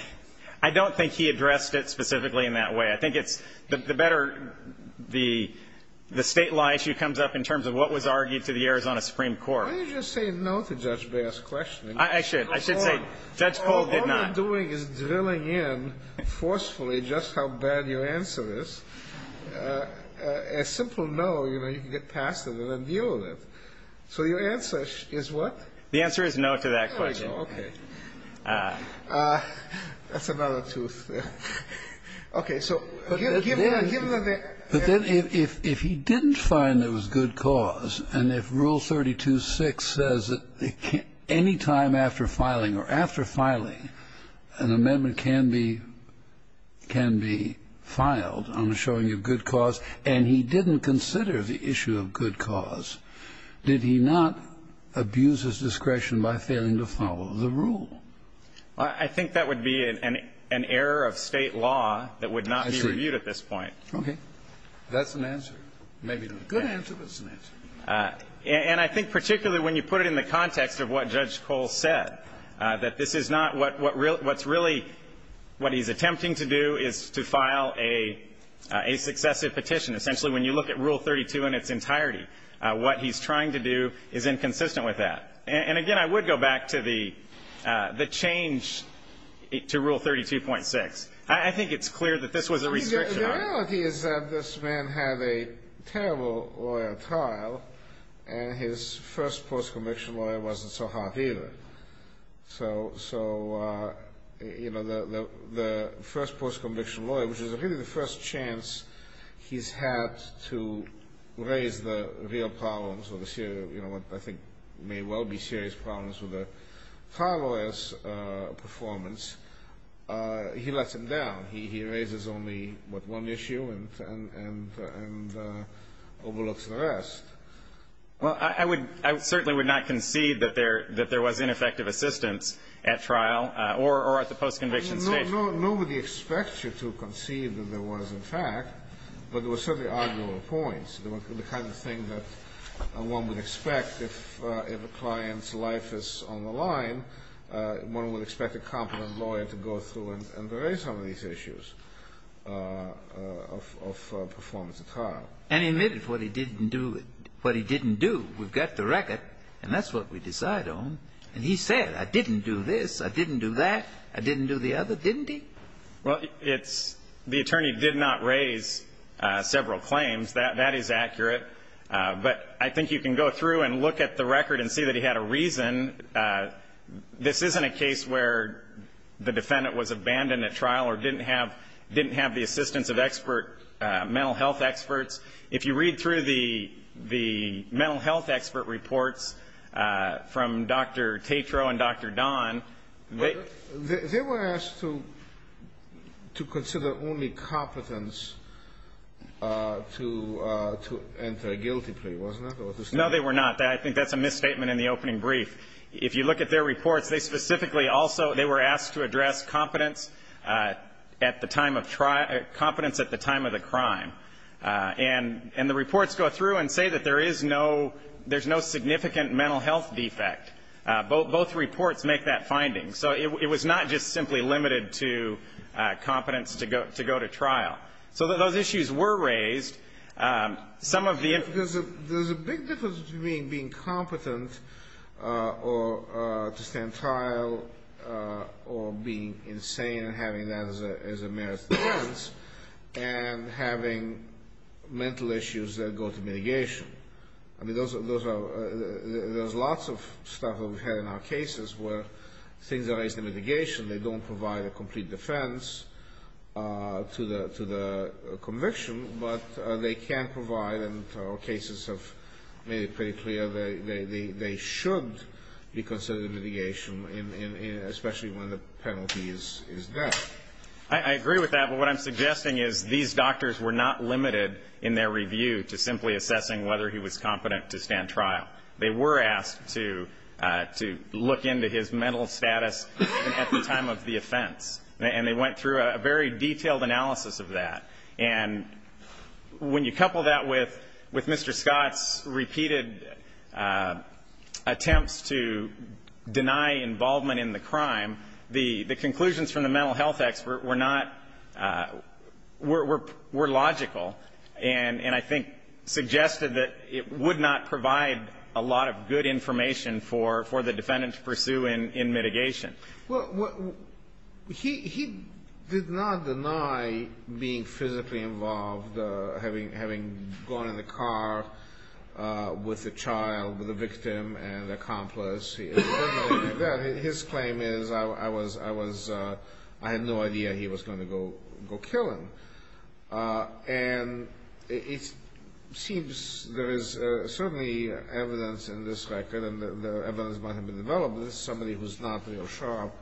I don't think he addressed it specifically in that way. I think it's the better the State law issue comes up in terms of what was argued to the Arizona Supreme Court. Why don't you just say no to Judge Baer's questioning? I should. I should say Judge Cole did not. What you're doing is drilling in forcefully just how bad your answer is. A simple no, you know, you can get past it and then deal with it. So your answer is what? The answer is no to that question. Okay. That's another tooth. Okay. So give them the ---- But then if he didn't find there was good cause and if Rule 32.6 says that any time after filing or after filing, an amendment can be ---- can be filed on the showing of good cause, and he didn't consider the issue of good cause, did he not abuse his discretion by failing to follow the rule? I think that would be an error of State law that would not be reviewed at this point. Okay. That's an answer. Maybe not a good answer, but it's an answer. And I think particularly when you put it in the context of what Judge Cole said, that this is not what's really what he's attempting to do is to file a successive petition. Essentially, when you look at Rule 32 in its entirety, what he's trying to do is inconsistent with that. And, again, I would go back to the change to Rule 32.6. I think it's clear that this was a restriction. The reality is that this man had a terrible lawyer trial, and his first post-conviction lawyer wasn't so hot either. So, you know, the first post-conviction lawyer, which is really the first chance he's had to raise the real problems or the serious, you know, what I think may well be serious problems with a trial lawyer's performance, he lets him down. He raises only, what, one issue and overlooks the rest. Well, I would certainly would not concede that there was ineffective assistance at trial or at the post-conviction stage. Nobody expects you to concede that there was, in fact, but there were certainly arguable points. The kind of thing that one would expect if a client's life is on the line, one would expect a competent lawyer to go through and raise some of these issues of performance at trial. And he admitted what he didn't do, what he didn't do. We've got the record, and that's what we decide on. And he said, I didn't do this, I didn't do that, I didn't do the other, didn't he? Well, it's the attorney did not raise several claims. That is accurate. But I think you can go through and look at the record and see that he had a reason. This isn't a case where the defendant was abandoned at trial or didn't have the assistance of expert mental health experts. If you read through the mental health expert reports from Dr. Tatro and Dr. Don, they They were asked to consider only competence to enter a guilty plea, wasn't it? No, they were not. I think that's a misstatement in the opening brief. If you look at their reports, they specifically also, they were asked to address competence at the time of trial, competence at the time of the crime. And the reports go through and say that there is no, there's no significant mental health defect. Both reports make that finding. So it was not just simply limited to competence to go to trial. So those issues were raised. There's a big difference between being competent or to stand trial or being insane and having that as a merits defense and having mental issues that go to mitigation. I mean, those are, there's lots of stuff that we've had in our cases where things are raised to mitigation. They don't provide a complete defense to the conviction, but they can provide, and our cases have made it pretty clear, they should be considered mitigation, especially when the penalty is there. I agree with that, but what I'm suggesting is these doctors were not limited in their review to simply assessing whether he was competent to stand trial. They were asked to look into his mental status at the time of the offense. And they went through a very detailed analysis of that. And when you couple that with Mr. Scott's repeated attempts to deny involvement in the crime, the conclusions from the mental health expert were not, were logical and I think suggested that it would not provide a lot of good information for the defendant to pursue in mitigation. Well, he did not deny being physically involved, having gone in the car with the child, with the victim and the accomplice. His claim is I was, I had no idea he was going to go kill him. And it seems there is certainly evidence in this record, and the evidence might have been developed, that this is somebody who's not real sharp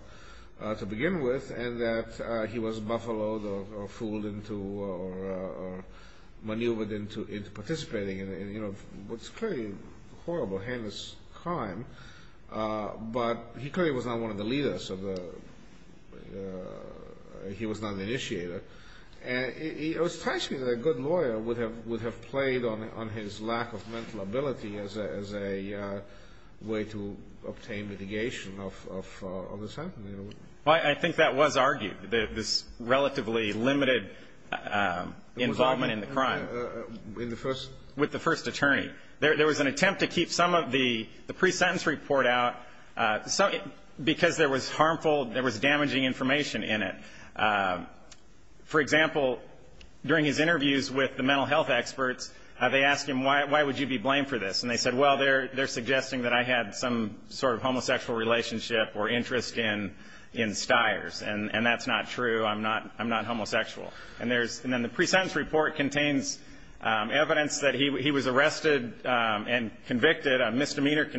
to begin with and that he was buffaloed or fooled into or maneuvered into participating in what's clearly a horrible, heinous crime. But he clearly was not one of the leaders of the, he was not an initiator. And it strikes me that a good lawyer would have played on his lack of mental ability as a way to obtain mitigation of the sentencing. I think that was argued, this relatively limited involvement in the crime. In the first? With the first attorney. There was an attempt to keep some of the pre-sentence report out because there was harmful, there was damaging information in it. For example, during his interviews with the mental health experts, they asked him, why would you be blamed for this? And they said, well, they're suggesting that I had some sort of homosexual relationship or interest in Stiers, and that's not true. I'm not homosexual. And then the pre-sentence report contains evidence that he was arrested and convicted, a misdemeanor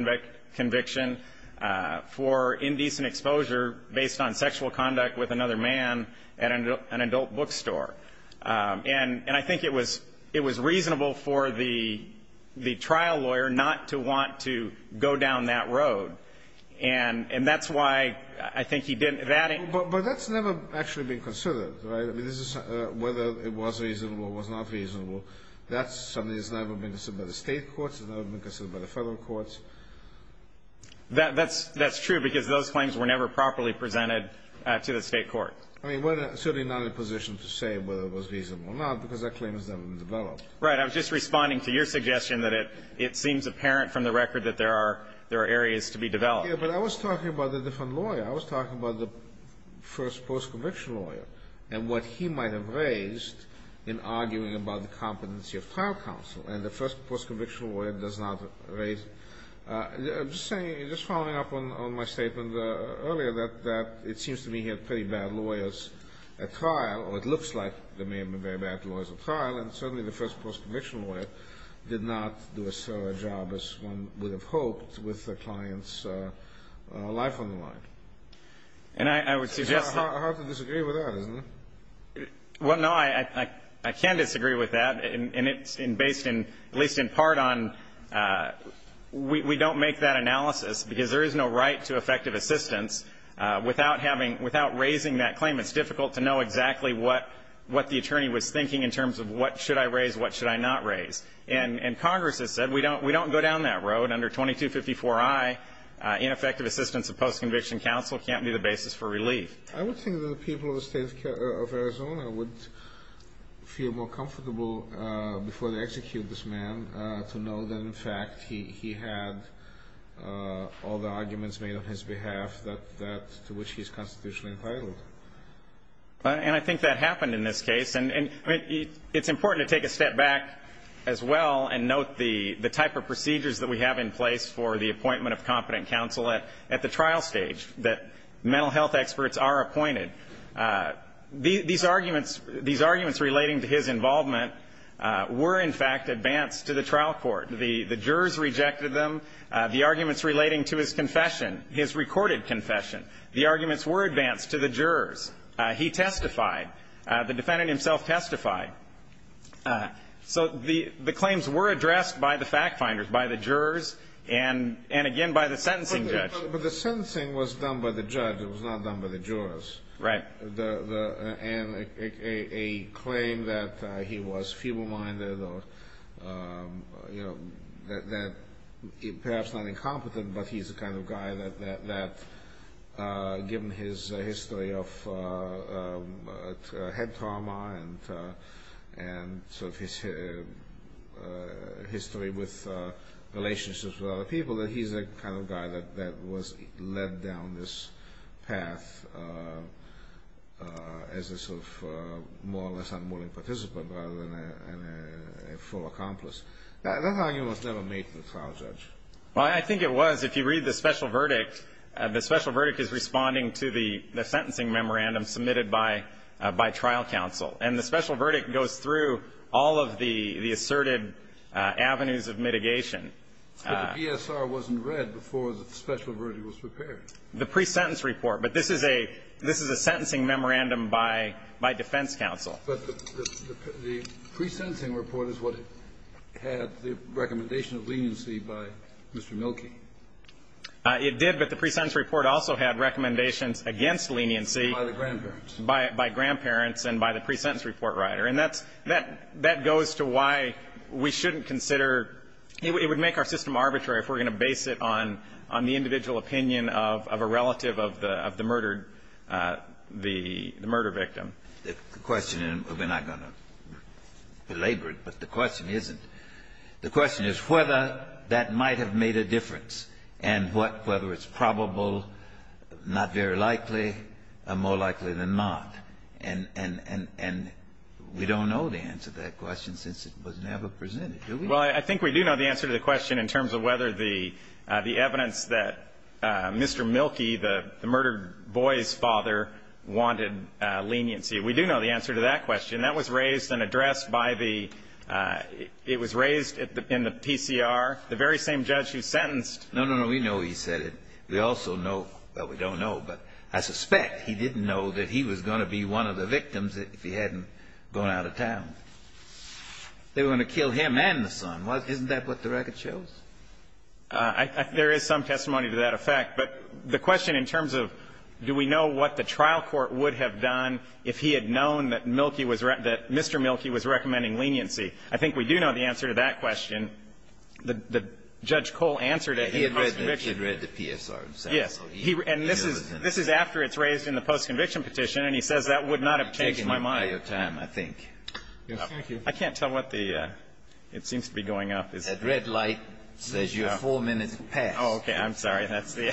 conviction, for indecent exposure based on sexual conduct with another man at an adult bookstore. And I think it was reasonable for the trial lawyer not to want to go down that road. And that's why I think he didn't. But that's never actually been considered, right? I mean, this is whether it was reasonable or was not reasonable. That's something that's never been considered by the State courts. It's never been considered by the Federal courts. That's true because those claims were never properly presented to the State court. I mean, we're certainly not in a position to say whether it was reasonable or not because that claim has never been developed. Right. I was just responding to your suggestion that it seems apparent from the record that there are areas to be developed. Yeah, but I was talking about a different lawyer. I was talking about the first post-conviction lawyer and what he might have raised in arguing about the competency of trial counsel. And the first post-conviction lawyer does not raise it. I'm just saying, just following up on my statement earlier, that it seems to me he had pretty bad lawyers at trial, or it looks like there may have been very bad lawyers at trial, and certainly the first post-conviction lawyer did not do as well a job as one would have hoped with the client's life on the line. And I would suggest that... It's hard to disagree with that, isn't it? Well, no. I can disagree with that, and it's based in, at least in part on, we don't make that analysis because there is no right to effective assistance without having, without raising that claim. It's difficult to know exactly what the attorney was thinking in terms of what should I raise, what should I not raise. And Congress has said we don't go down that road under 2254I. Ineffective assistance of post-conviction counsel can't be the basis for relief. I would think that the people of the State of Arizona would feel more comfortable before they execute this man to know that, in fact, he had all the arguments made on his behalf that to which he is constitutionally entitled. And I think that happened in this case. And it's important to take a step back as well and note the type of procedures that we have in place for the appointment of competent counsel at the trial stage that mental health experts are appointed. These arguments relating to his involvement were, in fact, advanced to the trial court. The jurors rejected them. The arguments relating to his confession, his recorded confession, the arguments were advanced to the jurors. He testified. The defendant himself testified. So the claims were addressed by the fact finders, by the jurors, and again by the sentencing judge. But the sentencing was done by the judge. It was not done by the jurors. Right. And a claim that he was feeble-minded or, you know, that perhaps not incompetent but he's the kind of guy that, given his history of head trauma and sort of his history with relationships with other people, that he's the kind of guy that was led down this path as a sort of more or less unwilling participant rather than a full accomplice. That argument was never made to the trial judge. Well, I think it was. If you read the special verdict, the special verdict is responding to the sentencing memorandum submitted by trial counsel. And the special verdict goes through all of the asserted avenues of mitigation. But the PSR wasn't read before the special verdict was prepared. The pre-sentence report. But this is a sentencing memorandum by defense counsel. But the pre-sentencing report is what had the recommendation of leniency by Mr. Milkey. It did, but the pre-sentence report also had recommendations against leniency. By the grandparents. By grandparents and by the pre-sentence report writer. And that goes to why we shouldn't consider – it would make our system arbitrary if we're going to base it on the individual opinion of a relative of the murder victim. The question, and we're not going to belabor it, but the question isn't. The question is whether that might have made a difference, and whether it's probable, not very likely, or more likely than not. And we don't know the answer to that question since it was never presented, do we? Well, I think we do know the answer to the question in terms of whether the evidence suggests that Mr. Milkey, the murdered boy's father, wanted leniency. We do know the answer to that question. That was raised and addressed by the – it was raised in the PCR. The very same judge who sentenced – No, no, no. We know he said it. We also know – well, we don't know, but I suspect he didn't know that he was going to be one of the victims if he hadn't gone out of town. They were going to kill him and the son. Isn't that what the record shows? There is some testimony to that effect. But the question in terms of do we know what the trial court would have done if he had known that Milkey was – that Mr. Milkey was recommending leniency? I think we do know the answer to that question. The Judge Cole answered it in the post-conviction. He had read the PSR. And this is after it's raised in the post-conviction petition, and he says that would not have taken my mind. I think. Thank you. I can't tell what the – it seems to be going up. The red light says your four minutes have passed. Oh, okay. I'm sorry. That's the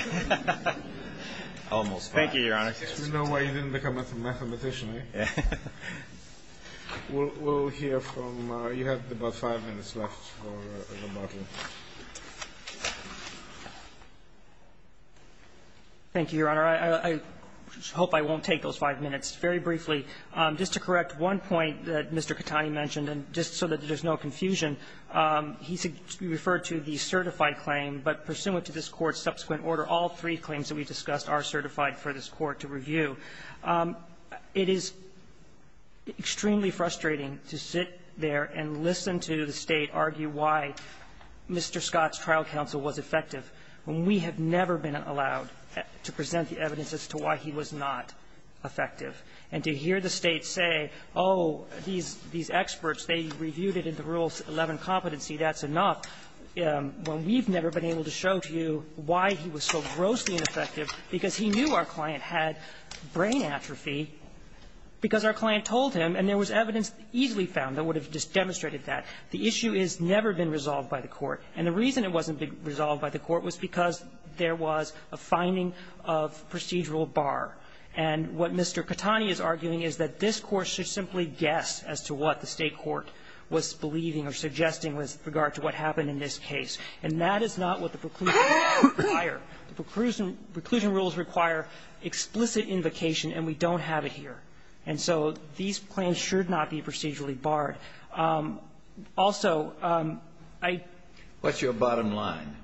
– almost five. Thank you, Your Honor. You know why you didn't become a mathematician, right? Yeah. We'll hear from – you have about five minutes left for rebuttal. Thank you, Your Honor. I hope I won't take those five minutes. Very briefly, just to correct one point that Mr. Katani mentioned, and just so that there's no confusion, he referred to the certified claim. But pursuant to this Court's subsequent order, all three claims that we discussed are certified for this Court to review. It is extremely frustrating to sit there and listen to the State argue why Mr. Scott's trial counsel was effective when we have never been allowed to present the evidence as to why he was not effective. And to hear the State say, oh, these experts, they reviewed it in the Rule 11 competency, that's enough, when we've never been able to show to you why he was so grossly ineffective, because he knew our client had brain atrophy, because our client told him, and there was evidence easily found that would have demonstrated that. The issue has never been resolved by the Court. And the reason it wasn't resolved by the Court was because there was a finding of procedural bar. And what Mr. Katani is arguing is that this Court should simply guess as to what the State court was believing or suggesting with regard to what happened in this case. And that is not what the preclusion rules require. The preclusion rules require explicit invocation, and we don't have it here. And so these claims should not be procedurally barred. Also, I ---- The bottom line,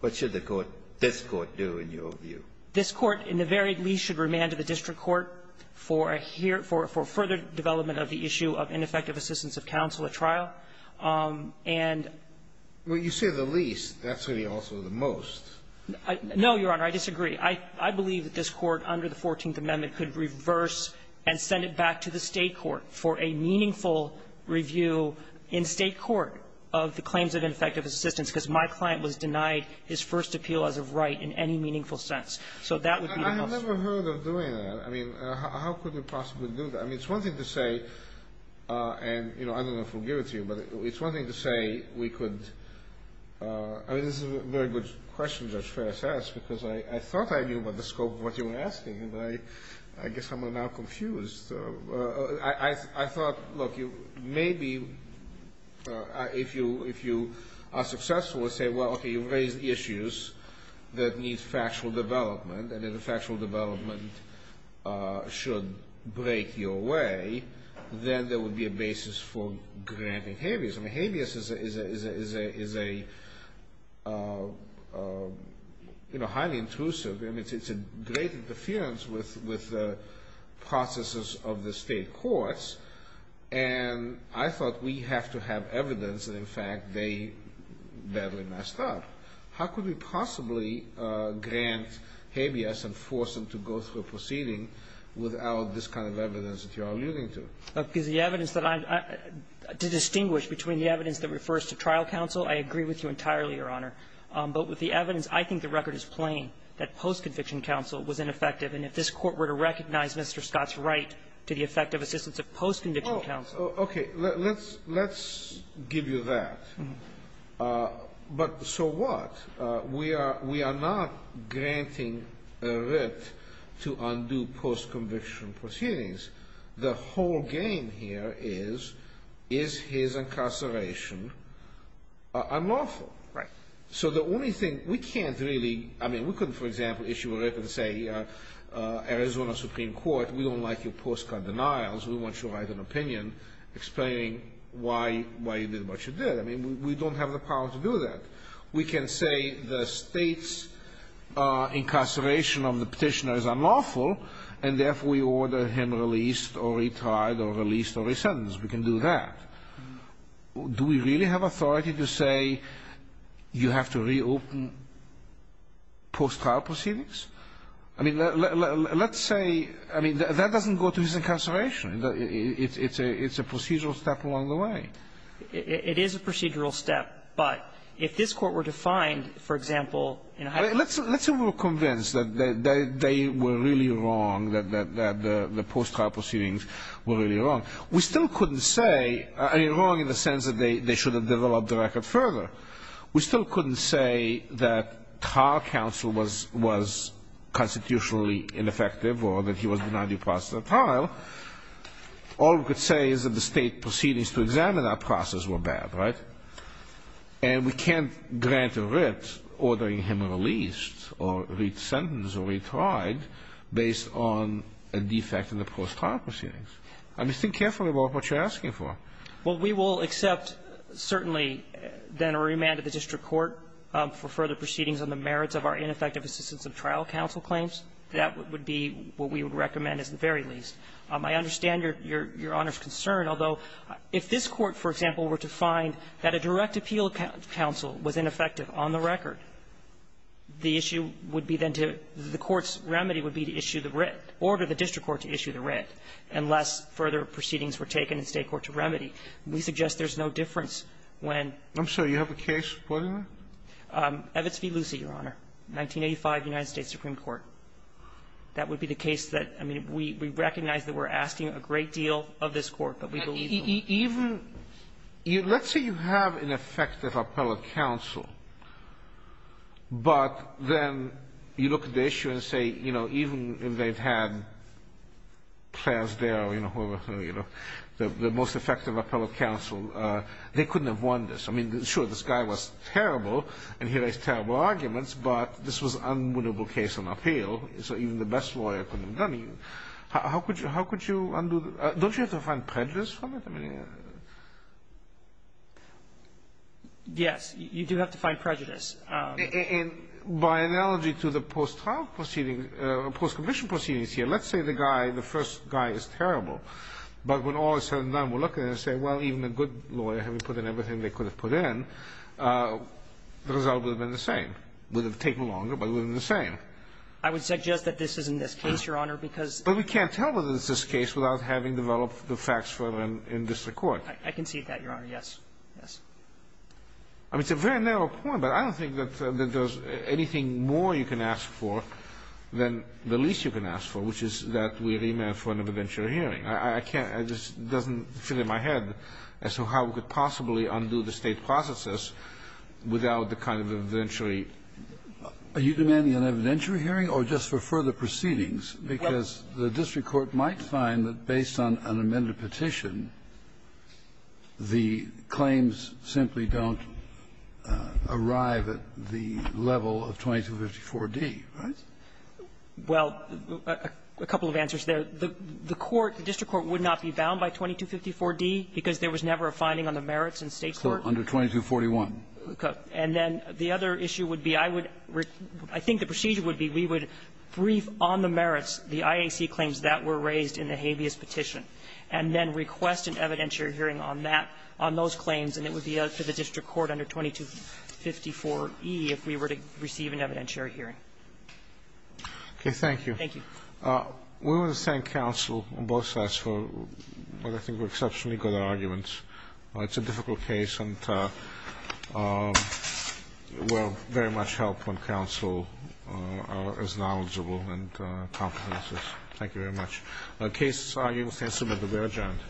what should the Court, this Court, do in your view? This Court, in the very least, should remand to the district court for a here ---- for further development of the issue of ineffective assistance of counsel at trial. And ---- Well, you say the least. That's really also the most. No, Your Honor. I disagree. I believe that this Court, under the 14th Amendment, could reverse and send it back to the State court for a meaningful review in State court of the claims of ineffective assistance, because my client was denied his first appeal as of right in any meaningful sense. So that would be the most ---- I have never heard of doing that. I mean, how could we possibly do that? I mean, it's one thing to say, and, you know, I don't know if we'll give it to you, but it's one thing to say we could ---- I mean, this is a very good question, Judge Ferris asked, because I thought I knew about the scope of what you were asking, and I guess I'm now confused. I thought, look, maybe if you are successful and say, well, okay, you raised issues that need factual development, and if the factual development should break your way, then there would be a basis for granting habeas. I mean, habeas is a, you know, highly intrusive, and it's a great interference with the processes of the State courts, and I thought we have to have evidence that, in fact, they badly messed up. How could we possibly grant habeas and force them to go through a proceeding without this kind of evidence that you are alluding to? Because the evidence that I'm ---- to distinguish between the evidence that refers to trial counsel, I agree with you entirely, Your Honor. But with the evidence, I think the record is plain that post-conviction counsel was ineffective. And if this Court were to recognize Mr. Scott's right to the effect of assistance of post-conviction counsel ---- Sotomayor, let's give you that. But so what? We are not granting a writ to undo post-conviction proceedings. The whole game here is, is his incarceration unlawful? Right. So the only thing we can't really ---- I mean, we couldn't, for example, issue a writ and say, Arizona Supreme Court, we don't like your postcard denials. We want you to write an opinion explaining why you did what you did. I mean, we don't have the power to do that. We can say the State's incarceration of the Petitioner is unlawful, and therefore we order him released or retired or released or re-sentenced. We can do that. Do we really have authority to say you have to reopen post-trial proceedings? I mean, let's say ---- I mean, that doesn't go to his incarceration. It's a procedural step along the way. It is a procedural step. But if this Court were to find, for example, in a high ---- Let's say we were convinced that they were really wrong, that the post-trial proceedings were really wrong. We still couldn't say, I mean, wrong in the sense that they should have developed the record further. We still couldn't say that trial counsel was constitutionally ineffective or that he was denied due process of trial. All we could say is that the State proceedings to examine that process were bad, right? And we can't grant a writ ordering him released or re-sentenced or retried based on a defect in the post-trial proceedings. I mean, think carefully about what you're asking for. Well, we will accept, certainly, then a remand to the district court for further proceedings on the merits of our ineffective assistance of trial counsel claims. That would be what we would recommend, at the very least. I understand your Honor's concern, although if this Court, for example, were to find that a direct appeal counsel was ineffective on the record, the issue would be then to ---- the Court's remedy would be to issue the writ, order the district court to issue the writ, unless further proceedings were taken in State court to remedy. We suggest there's no difference when ---- I'm sorry. You have a case supporting that? Evitz v. Lucie, Your Honor, 1985, United States Supreme Court. That would be the case that, I mean, we recognize that we're asking a great deal of this Court, but we believe ---- Even ---- let's say you have an effective appellate counsel, but then you look at the most effective appellate counsel, they couldn't have won this. I mean, sure, this guy was terrible, and he raised terrible arguments, but this was an unwinnable case on appeal, so even the best lawyer couldn't have done it. How could you undo the ---- don't you have to find prejudice from it? I mean, I don't know. Yes. You do have to find prejudice. And by analogy to the post-trial proceedings, post-commission proceedings here, let's say the guy, the first guy, is terrible, but when all of a sudden none were looking, they say, well, even a good lawyer, having put in everything they could have put in, the result would have been the same. It would have taken longer, but it would have been the same. I would suggest that this is in this case, Your Honor, because ---- But we can't tell whether it's this case without having developed the facts for them in district court. I can see that, Your Honor. Yes. Yes. I mean, it's a very narrow point, but I don't think that there's anything more you can ask for than the least you can ask for, which is that we remand for an evidentiary hearing. I can't ---- it just doesn't fit in my head as to how we could possibly undo the State processes without the kind of evidentiary ---- Are you demanding an evidentiary hearing or just for further proceedings? Because the district court might find that based on an amended petition, the claims simply don't arrive at the level of 2254d, right? Well, a couple of answers there. The court, the district court, would not be bound by 2254d because there was never a finding on the merits in State court. Under 2241. Okay. And then the other issue would be I would ---- I think the procedure would be we would brief on the merits, the IAC claims that were raised in the habeas petition, and then request an evidentiary hearing on that, on those claims, and it would be up to the district court under 2254e if we were to receive an evidentiary hearing. Okay. Thank you. Thank you. We want to thank counsel on both sides for what I think were exceptionally good arguments. It's a difficult case and will very much help when counsel is knowledgeable and competent. Thank you very much. The case is moved and adjourned.